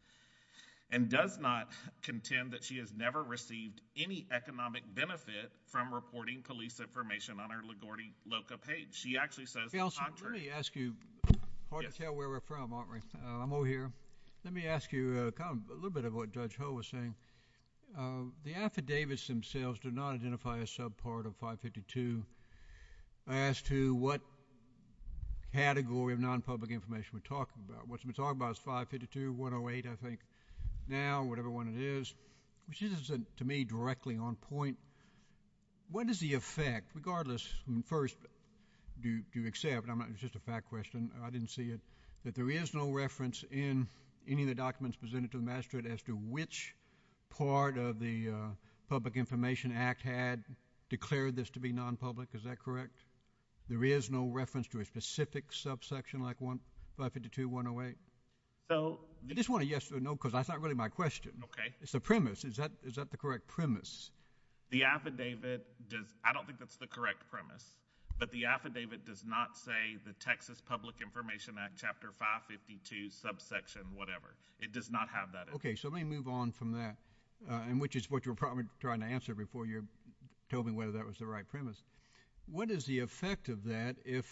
and does not contend that she has never received any economic benefit from reporting police information on her LaGuardia Loca page. She actually says contrary. Let me ask you, hard to tell where we're from, aren't we? I'm over here. Let me ask you a little bit of what Judge Ho was saying. The affidavits themselves do not identify a subpart of 552. I asked you what category of non-public information we're talking about. What we're talking about is 552, 108, I think, now, whatever one it is, which isn't, to me, directly on point. What is the effect, regardless, first, do you accept, and this is just a fact question, I didn't see it, that there is no reference in any of the documents presented to the magistrate as to which part of the Public Information Act had declared this to be non-public? Is that correct? There is no reference to a specific subsection like 552, 108? I just want to yes or no because that's not really my question. It's a premise. Is that the correct premise? The affidavit, I don't think that's the correct premise, but the affidavit does not say the Texas Public Information Act, Chapter 552, subsection whatever. It does not have that. Okay, so let me move on from that, which is what you were probably trying to answer before you told me whether that was the right premise. What is the effect of that if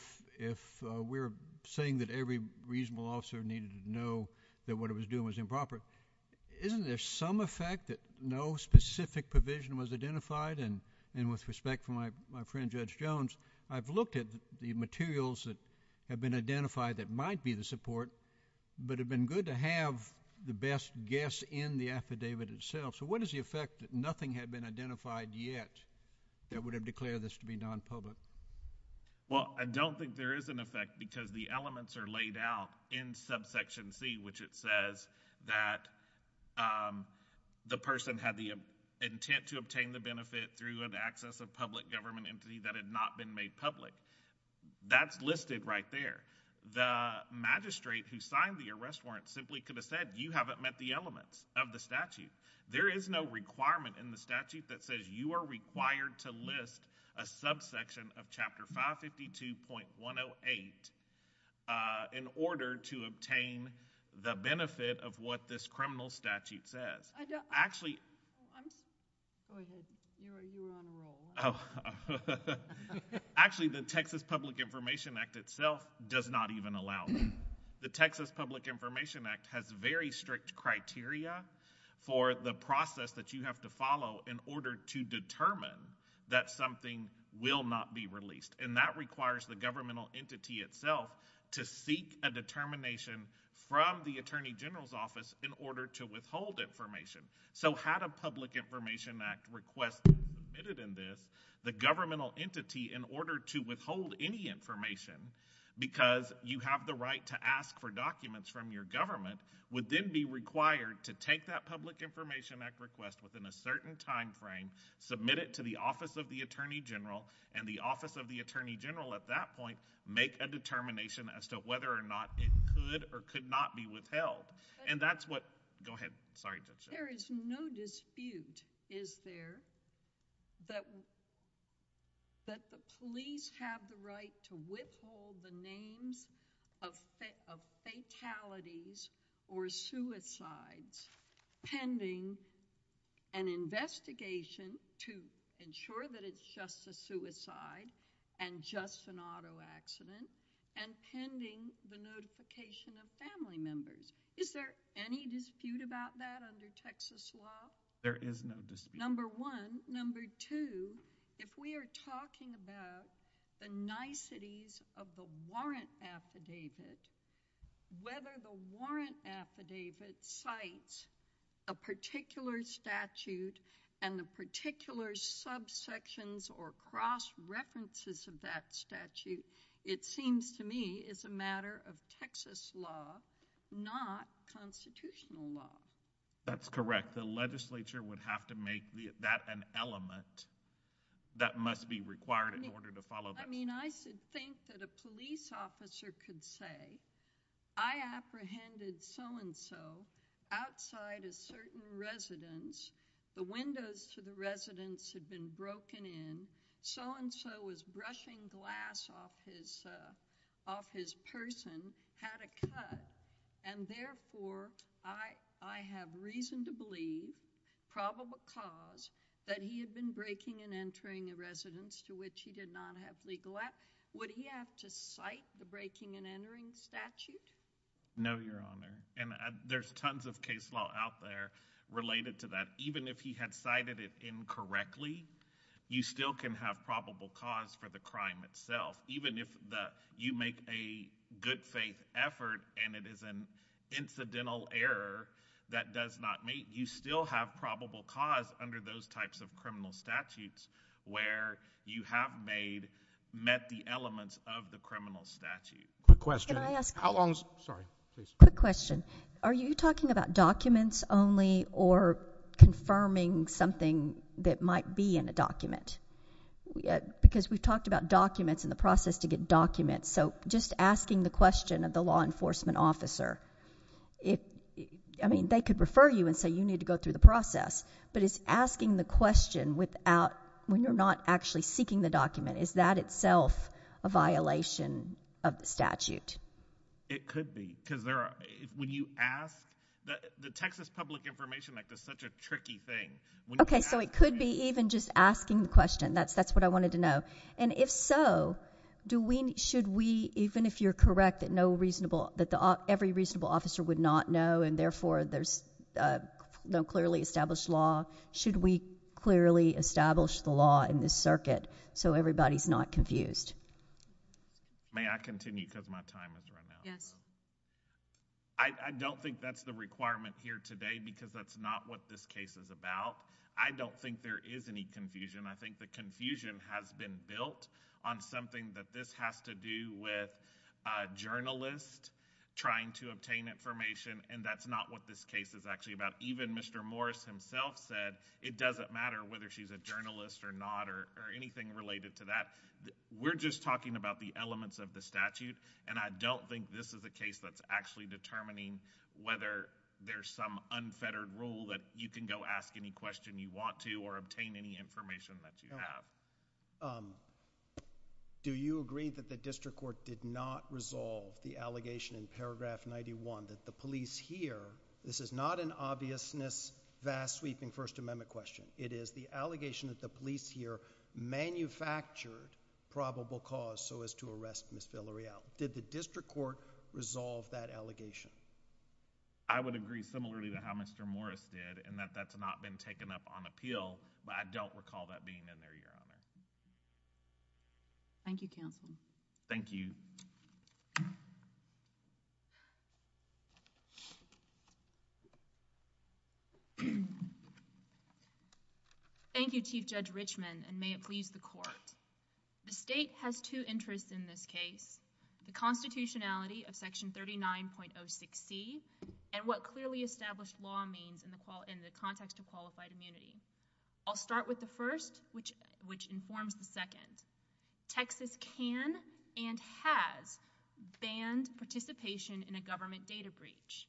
we're saying that every reasonable officer needed to know that what it was doing was improper? Isn't there some effect that no specific provision was identified? And with respect to my friend Judge Jones, I've looked at the materials that have been identified that might be the support but it would have been good to have the best guess in the affidavit itself. So what is the effect that nothing had been identified yet that would have declared this to be non-public? Well, I don't think there is an effect because the elements are laid out in subsection C, which it says that the person had the intent to obtain the benefit through an access of public government entity that had not been made public. That's listed right there. The magistrate who signed the arrest warrant simply could have said you haven't met the elements of the statute. There is no requirement in the statute that says you are required to list a subsection of Chapter 552.108 in order to obtain the benefit of what this criminal statute says. Actually, the Texas Public Information Act itself does not even allow it. The Texas Public Information Act has very strict criteria for the process that you have to follow in order to determine that something will not be released. And that requires the governmental entity itself to seek a determination from the Attorney General's office in order to withhold information. So had a Public Information Act request submitted in this, the governmental entity, in order to withhold any information because you have the right to ask for documents from your government, would then be required to take that Public Information Act request within a certain timeframe, submit it to the Office of the Attorney General and the Office of the Attorney General at that point make a determination as to whether or not it could or could not be withheld. There is no dispute, is there, that the police have the right to withhold the names of fatalities or suicides pending an investigation to ensure that it's just a suicide and just an auto accident and pending the notification of family members. Is there any dispute about that under Texas law? There is no dispute. Number one. Number two, if we are talking about the niceties of the warrant affidavit, whether the warrant affidavit cites a particular statute and the particular subsections or cross-references of that statute, it seems to me is a matter of Texas law, not constitutional law. That's correct. The legislature would have to make that an element that must be required in order to follow that. I mean, I could think that a police officer could say, I apprehended so-and-so outside a certain residence. The windows to the residence had been broken in. So-and-so was brushing glass off his person, had a cut, and therefore I have reason to believe, probable cause, that he had been breaking and entering the residence to which he did not have legal access. Would he have to cite the breaking and entering statute? No, Your Honor. And there's tons of case law out there related to that. Even if he had cited it incorrectly, you still can have probable cause for the crime itself. Even if you make a good faith effort and it is an incidental error that does not meet, you still have probable cause under those types of criminal statutes where you have met the elements of the criminal statute. Quick question. Quick question. Are you talking about documents only or confirming something that might be in the document? Because we talked about documents and the process to get documents. So just asking the question of the law enforcement officer, I mean, they could refer you and say you need to go through the process, but it's asking the question without, when you're not actually seeking the document, is that itself a violation of the statute? It could be because when you ask, the Texas Public Information Act is such a tricky thing. Okay, so it could be even just asking the question. That's what I wanted to know. And if so, should we, even if you're correct, that every reasonable officer would not know and therefore there's no clearly established law, should we clearly establish the law in the circuit so everybody's not confused? May I continue because my time is running out? Yes. I don't think that's the requirement here today because that's not what this case is about. I don't think there is any confusion. I think the confusion has been built on something that this has to do with journalists trying to obtain information and that's not what this case is actually about. Even Mr. Morris himself said it doesn't matter whether she's a journalist or not or anything related to that. We're just talking about the elements of the statute, and I don't think this is a case that's actually determining whether there's some unfettered rule that you can go ask any question you want to or obtain any information that you have. Do you agree that the district court did not resolve the allegation in paragraph 91 that the police here, this is not an obviousness, vast sweeping First Amendment question. It is the allegation that the police here manufactured probable cause so as to arrest Ms. Villarreal. Did the district court resolve that allegation? I would agree similarly to how Mr. Morris did in that that's not been taken up on appeal, Thank you, counsel. Thank you. Thank you, Chief Judge Richmond, and may it please the court. The state has two interests in this case, the constitutionality of section 39.06c and what clearly established law means in the context of qualified immunity. I'll start with the first, which informs the second. Texas can and has banned participation in a government data breach.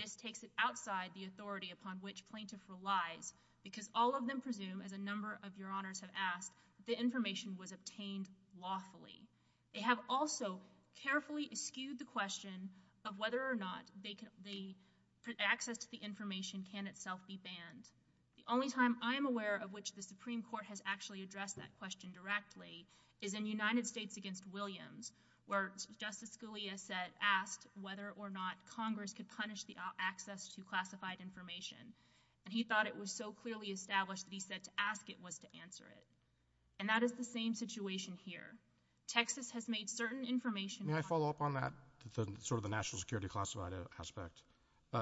This takes it outside the authority upon which plaintiffs rely because all of them presume, as a number of your honors have asked, that the information was obtained lawfully. They have also carefully excused the question of whether or not the access to the information can itself be banned. The only time I'm aware of which the Supreme Court has actually addressed that question directly is in United States v. Williams, where Justice Scalia asked whether or not Congress could punish the access to classified information. He thought it was so clearly established that he said to ask it was to answer it. And that is the same situation here. Texas has made certain information... May I follow up on that, sort of the national security classified aspect?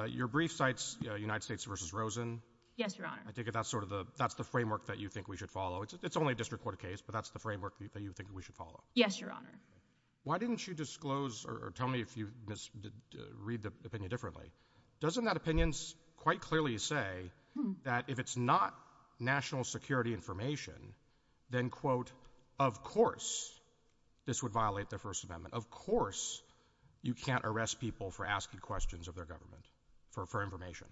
Your brief cites United States v. Rosen. Yes, your honor. I think that's the framework that you think we should follow. It's only a district court case, but that's the framework that you think we should follow. Yes, your honor. Why didn't you disclose or tell me if you read the opinion differently? Doesn't that opinion quite clearly say that if it's not national security information, then, quote, of course this would violate the First Amendment? Of course you can't arrest people for asking questions of their government for information.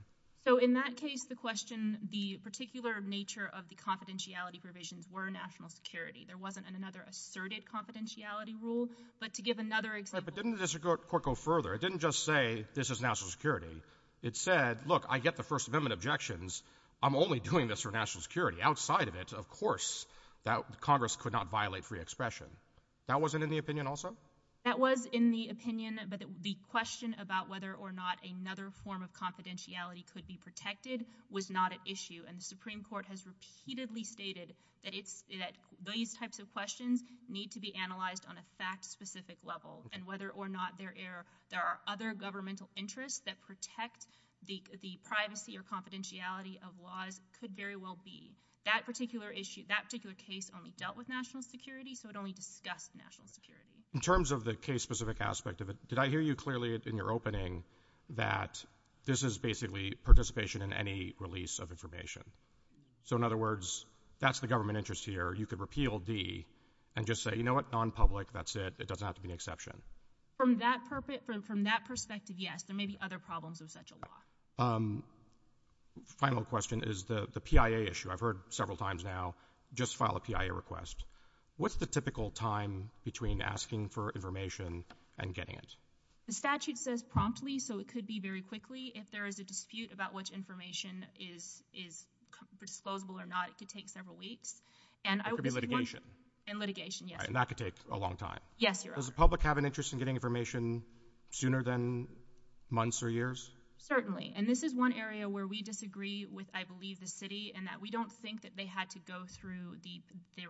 So in that case, the question, the particular nature of the confidentiality provisions were national security. There wasn't another asserted confidentiality rule. But to give another example... But didn't this court go further? It didn't just say this is national security. It said, look, I get the First Amendment objections. I'm only doing this for national security. Outside of it, of course, Congress could not violate free expression. That wasn't in the opinion also? That was in the opinion, but the question about whether or not another form of confidentiality could be protected was not an issue. And the Supreme Court has repeatedly stated that these types of questions need to be analyzed on a fact-specific level. And whether or not there are other governmental interests that protect the privacy or confidentiality of laws could very well be. That particular issue, that particular case only dealt with national security, so it only discussed national security. In terms of the case-specific aspect of it, did I hear you clearly in your opening that this is basically participation in any release of information? So in other words, that's the government interest here. You could repeal D and just say, you know what? Non-public, that's it. It doesn't have to be an exception. From that perspective, yes. There may be other problems with such a law. Final question is the PIA issue. I've heard several times now, just file a PIA request. What's the typical time between asking for information and getting it? The statute says promptly, so it could be very quickly. If there is a dispute about which information is disposable or not, it could take several weeks. That could be litigation. In litigation, yes. And that could take a long time. Yes, Your Honor. Does the public have an interest in getting information sooner than months or years? Certainly. And this is one area where we disagree with, I believe, the city in that we don't think that they had to go through the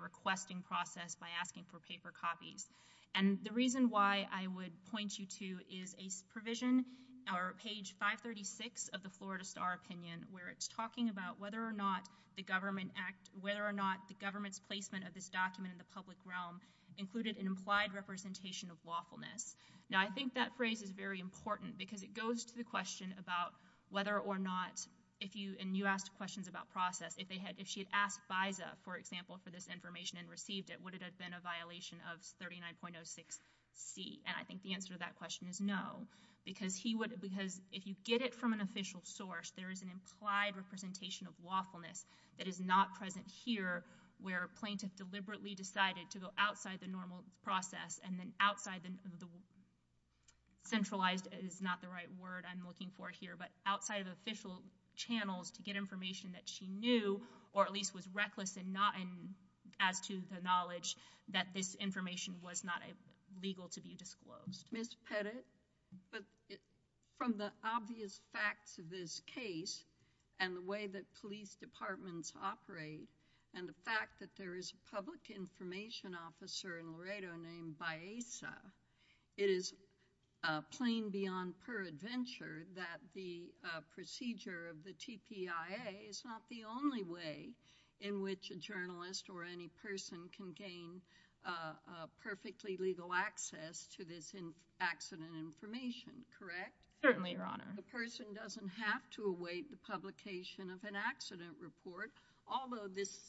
requesting process by asking for paper copies. And the reason why I would point you to is a provision, or page 536 of the Florida Star Opinion, where it's talking about whether or not the government act, whether or not the government's placement of this document in the public realm included an implied representation of lawfulness. Now, I think that phrase is very important because it goes to the question about whether or not, and you asked questions about process, if she had asked FISA, for example, for this information and received it, would it have been a violation of 39.06C? And I think the answer to that question is no. Because if you get it from an official source, there is an implied representation of lawfulness that is not present here, where a plaintiff deliberately decided to go outside the normal process and then outside the centralized, is not the right word I'm looking for here, but outside of the official channel to get information that she knew, or at least was reckless in not adding to the knowledge that this information was not legal to be disclosed. Ms. Pettit, from the obvious facts of this case and the way that police departments operate and the fact that there is a public information officer in Laredo named Baeza, it is plain beyond her adventure that the procedure of the TPIA is not the only way in which a journalist or any person can gain perfectly legal access to this accident information, correct? Certainly, Your Honor. The person doesn't have to await the publication of an accident report, although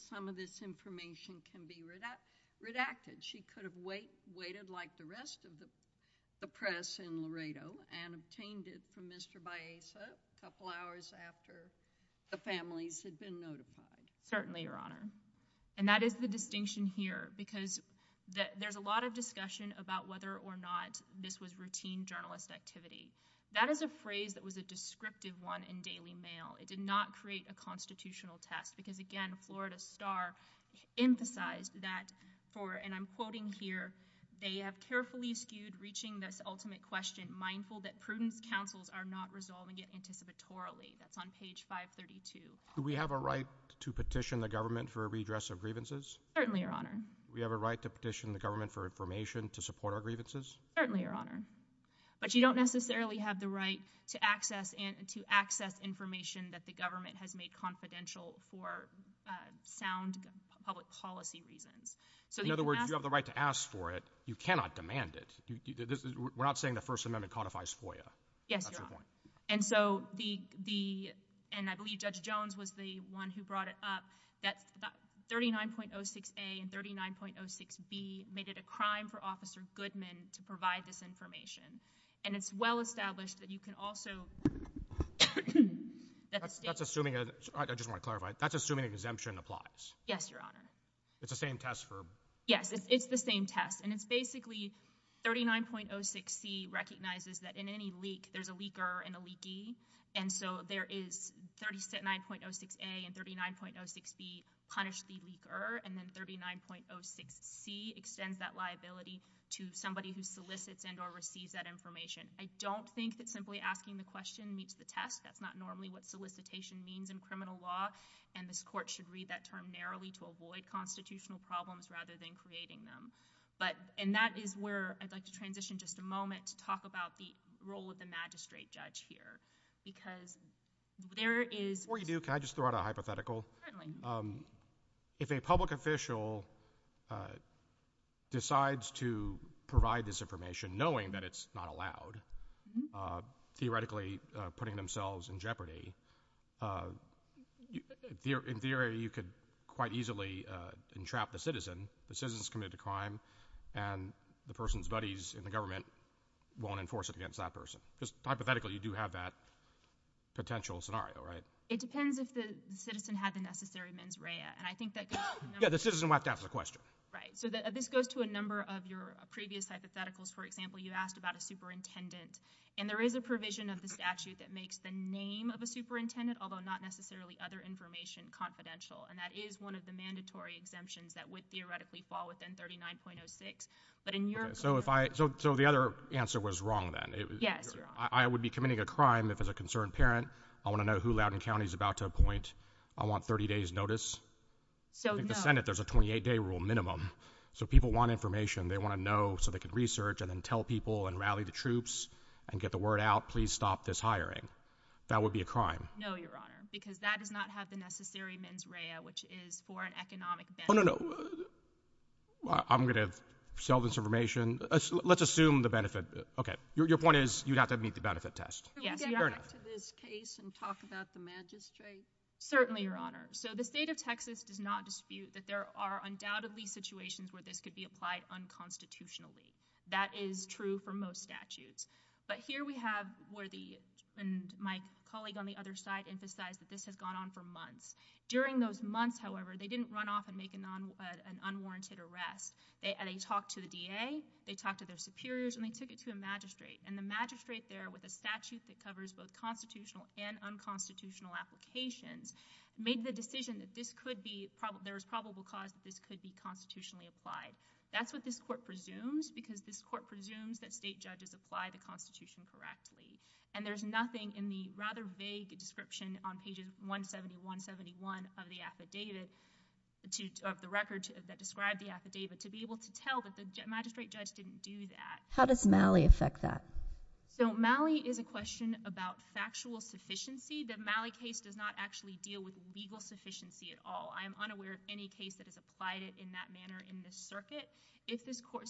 some of this information can be redacted. She could have waited like the rest of the press in Laredo and obtained it from Mr. Baeza a couple hours after the families had been notified. Certainly, Your Honor. And that is the distinction here, because there's a lot of discussion about whether or not this was routine journalist activity. That is a phrase that was a descriptive one in Daily Mail. It did not create a constitutional text, because again, Florida Star emphasized that for, and I'm quoting here, they have carefully skewed reaching this ultimate question, mindful that prudent counsels are not resolving it anticipatorily. That's on page 532. Do we have a right to petition the government for redress of grievances? Certainly, Your Honor. Do we have a right to petition the government for information to support our grievances? Certainly, Your Honor. But you don't necessarily have the right to access information that the government has made confidential for sound public policy reasons. In other words, you have the right to ask for it. You cannot demand it. We're not saying the First Amendment codifies FOIA. Yes, Your Honor. And so the, and I believe Judge Jones was the one who brought it up, that 39.06a and 39.06b made it a crime for Officer Goodman to provide this information. And it's well established that you can also... That's assuming, I just want to clarify, that's assuming exemption applies. Yes, Your Honor. It's the same test, Herb. Yes, it's the same test. And it's basically 39.06b recognizes that in any leak, there's a leaker and a leaky. And so there is 39.06a and 39.06b punish the leaker. And then 39.06b extends that liability to somebody who solicits and or receives that information. I don't think that simply asking the question meets the test. That's not normally what solicitation means in criminal law. And this court should read that term narrowly to avoid constitutional problems rather than creating them. But, and that is where I'd like to transition just a moment to talk about the role of the magistrate judge here. Because there is... Before you do, can I just throw out a hypothetical? Certainly. If a public official decides to provide this information, knowing that it's not allowed, theoretically putting themselves in jeopardy, in theory, you could quite easily entrap the citizen. The citizen's committed a crime, and the person's buddies in the government won't enforce it against that person. Just hypothetically, you do have that potential scenario, right? It depends if the citizen had the necessary mens rea. And I think that... Yeah, the citizen would have to ask the question. Right. So this goes to a number of your previous hypotheticals. For example, you asked about a superintendent. And there is a provision of the statute that makes the name of a superintendent, although not necessarily other information, confidential. And that is one of the mandatory exemptions that would theoretically fall within 39.06. But in your... So if I... So the other answer was wrong then. Yes. I would be committing a crime if it's a concerned parent. I want to know who Loudoun County is about to appoint. I want 30 days notice. So no... In the Senate, there's a 28-day rule minimum. So people want information. They want to know so they can research and then tell people and rally the troops and get the word out, please stop this hiring. That would be a crime. No, Your Honor. Because that does not have the necessary mens rea, which is for an economic benefit. Oh, no, no. I'm going to sell this information. Let's assume the benefit... Okay. Your point is you'd have to meet the benefit test. Can we get back to this case and talk about the magistrate? Certainly, Your Honor. So the state of Texas does not dispute that there are undoubtedly situations where this could be applied unconstitutionally. That is true for most statutes. But here we have where the... And my colleague on the other side emphasized that this had gone on for months. During those months, however, they didn't run off and make an unwarranted arrest. They talked to the VA, they talked to their superiors, and they took it to a magistrate. And the magistrate there with a statute that covers both constitutional and unconstitutional applications made the decision that this could be... There was probable cause that this could be constitutionally applied. That's what this court presumes, because this court presumes that state judges apply the Constitution correctly. And there's nothing in the rather vague inscription on pages 170, 171 of the affidavit, of the record that described the affidavit, to be able to tell that the magistrate judge didn't do that. How does Malley affect that? So Malley is a question about factual sufficiency. The Malley case does not actually deal with legal sufficiency at all. I am unaware of any case that has applied it in that manner in this circuit.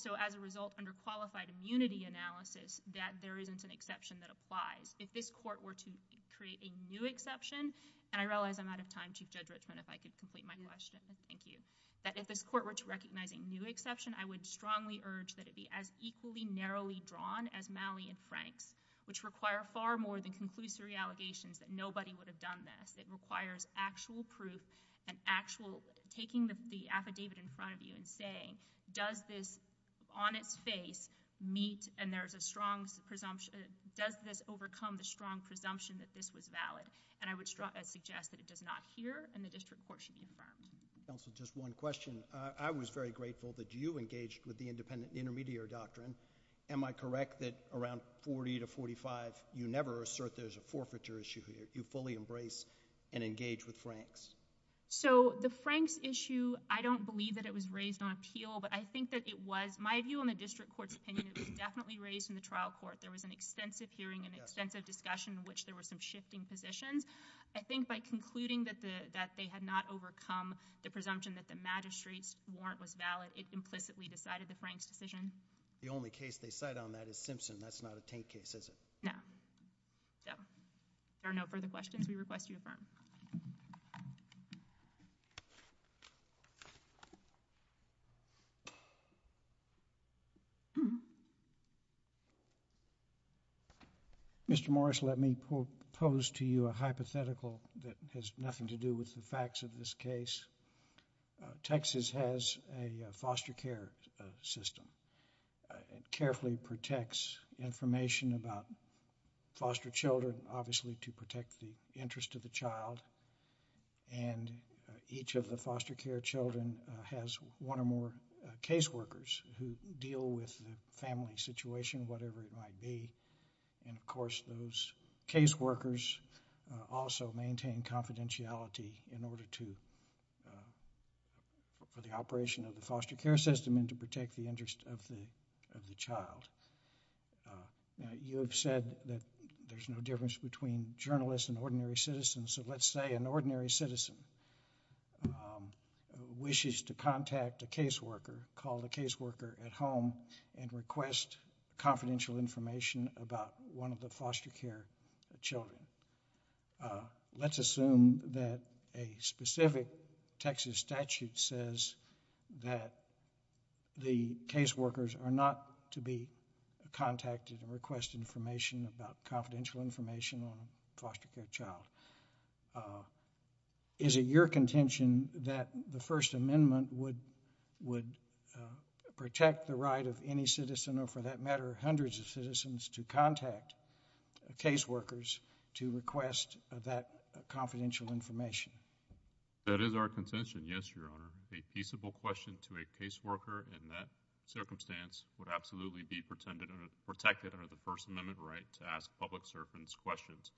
So as a result, under qualified immunity analysis, that there isn't an exception that applies. If this court were to create a new exception... And I realize I'm out of time, Chief Judge Ritson, if I could complete my question. Thank you. If this court were to recognize a new exception, I would strongly urge that it be as equally narrowly drawn as Malley and Frank's, which require far more than conclusive allegations that nobody would have done this. It requires actual proof and actual... In front of you and saying, does this, on its face, meet and there's a strong presumption... Does this overcome the strong presumption that this was valid? And I would suggest that it does not here and the district court should confirm. Just one question. I was very grateful that you engaged with the Independent Intermediary Doctrine. Am I correct that around 40 to 45, you never assert there's a forfeiture issue here? You fully embrace and engage with Frank's? So the Frank's issue, I don't believe that it was raised on appeal, but I think that it was... My view on the district court's opinion is it's definitely raised in the trial court. There was an extensive hearing, an extensive discussion, in which there were some shifting positions. I think by concluding that they had not overcome the presumption that the magistrate warrant was valid, it's implicitly decided the Frank's decision. The only case they cite on that is Simpson. That's not obtained case history. No. So, if there are no further questions, we request you affirm. Mr. Morris, let me pose to you a hypothetical that has nothing to do with the facts of this case. Texas has a foster care system. It carefully protects information about foster children, obviously to protect the interest of the child, and each of the foster care children has one or more caseworkers who deal with the family situation, whatever it might be, and, of course, those caseworkers also maintain confidentiality in order to... for the operation of the foster care system and to protect the interest of the child. You have said that there's no difference between journalists and ordinary citizens, so let's say an ordinary citizen wishes to contact a caseworker, call the caseworker at home and request confidential information about one of the foster care children. Let's assume that a specific Texas statute says that the caseworkers are not to be contacted and request information about confidential information on a foster care child. Is it your contention that the First Amendment would protect the right of any citizen, or for that matter, hundreds of citizens, to contact caseworkers to request that confidential information? That is our contention, yes, Your Honor. A feasible question to a caseworker in that circumstance would absolutely be protected under the First Amendment right to ask public servants questions.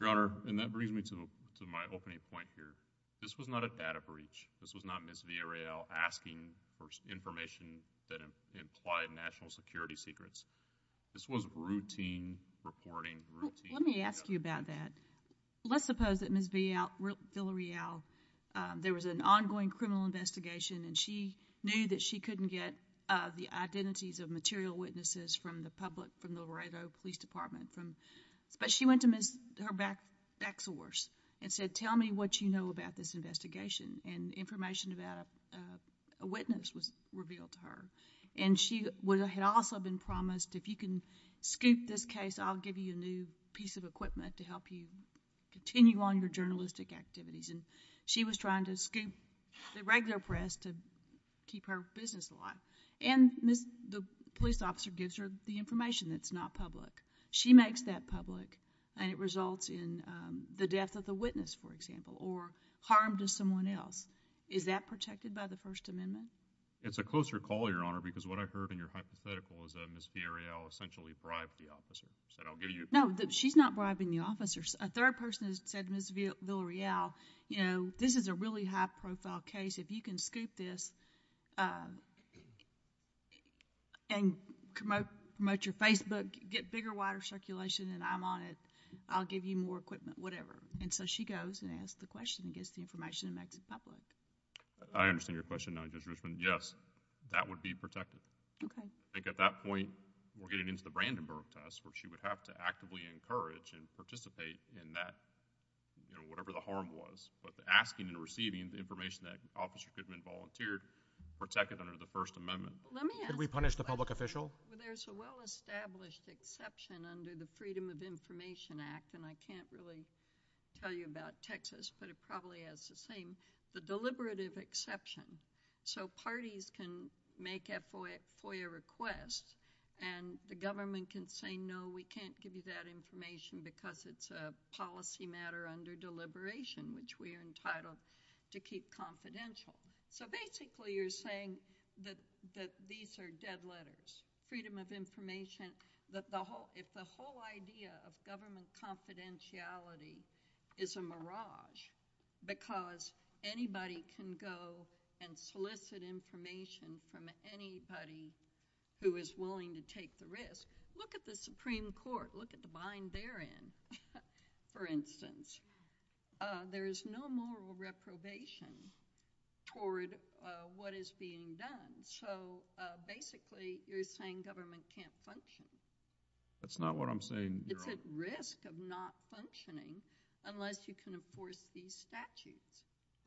Your Honor, and that brings me to my opening point here. This was not a data breach. This was not Ms. Villarreal asking for information that implied national security secrets. This was routine reporting. Let me ask you about that. Let's suppose that Ms. Villarreal, there was an ongoing criminal investigation and she knew that she couldn't get the identities of material witnesses from the public, from the Laredo Police Department, but she went to her back source and said, tell me what you know about this investigation. And information about a witness was revealed to her. And she had also been promised if you can scoop this case, I'll give you a new piece of equipment to help you continue on your journalistic activities. And she was trying to scoop the regular press to keep her business alive. And the police officer gives her the information that's not public. She makes that public. And it results in the death of the witness, for example, or harm to someone else. Is that protected by the First Amendment? It's a closer call, Your Honor, because what I heard in your hypothetical is that Ms. Villarreal essentially bribed the officers. No, but she's not bribing the officers. A third person has said, Ms. Villarreal, you know, this is a really high-profile case. If you can scoop this and promote your Facebook, get bigger, wider circulation, and I'm on it, I'll give you more equipment, whatever. And so she goes and asks the question, gives the information, and makes it public. I understand your question, Judge Richmond. Yes, that would be protected. Okay. I think at that point, we're getting into the Brandenburg test, where she would have to actively encourage and participate in that, you know, whatever the harm was. But asking and receiving the information that the officer could have been volunteered protected under the First Amendment. Can we punish the public official? Well, there's a well-established exception under the Freedom of Information Act, and I can't really tell you about Texas, but it probably has the same, the deliberative exception. So parties can make FOIA requests, and the government can say, no, we can't give you that information because it's a policy matter under deliberation, which we are entitled to keep confidential. So basically, you're saying that these are dead letters. Freedom of Information, if the whole idea of government confidentiality is a mirage because anybody can go and solicit information from anybody who is willing to take the risk. Look at the Supreme Court. Look at the bind they're in, for instance. There is no moral reprobation toward what is being done. So basically, you're saying government can't function. That's not what I'm saying, Your Honor. It's at risk of not functioning unless you can enforce these statutes.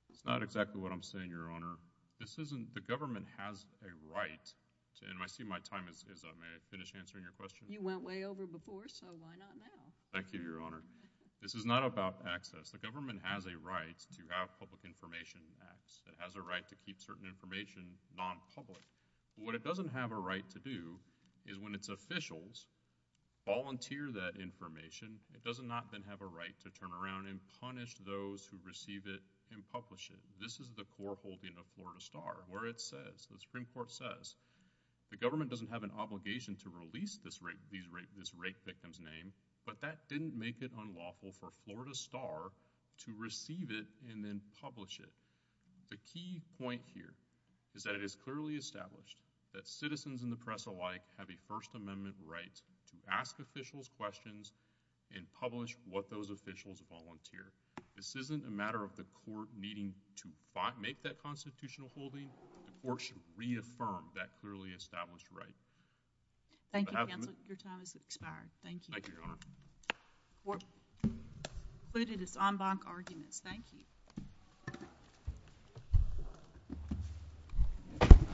That's not exactly what I'm saying, Your Honor. This isn't, the government has a right to, and I see my time is up. May I finish answering your question? You went way over before, so why not now? Thank you, Your Honor. This is not about access. The government has a right to have public information access. It has a right to keep certain information nonpublic. What it doesn't have a right to do is when its officials volunteer that information, it does not then have a right to turn around and punish those who receive it and publish it. This is the foreholding of Florida Star, where it says, the Supreme Court says, the government doesn't have an obligation to release this rape victim's name, but that didn't make it unlawful for Florida Star to receive it and then publish it. The key point here is that it is clearly established that citizens and the press alike have a First Amendment right to ask officials questions and publish what those officials volunteer. This isn't a matter of the court needing to make that constitutional holding or to reaffirm that clearly established right. Thank you, Your Honor. The hearing has expired. Thank you. Thank you, Your Honor. This concludes this en banc argument. Thank you.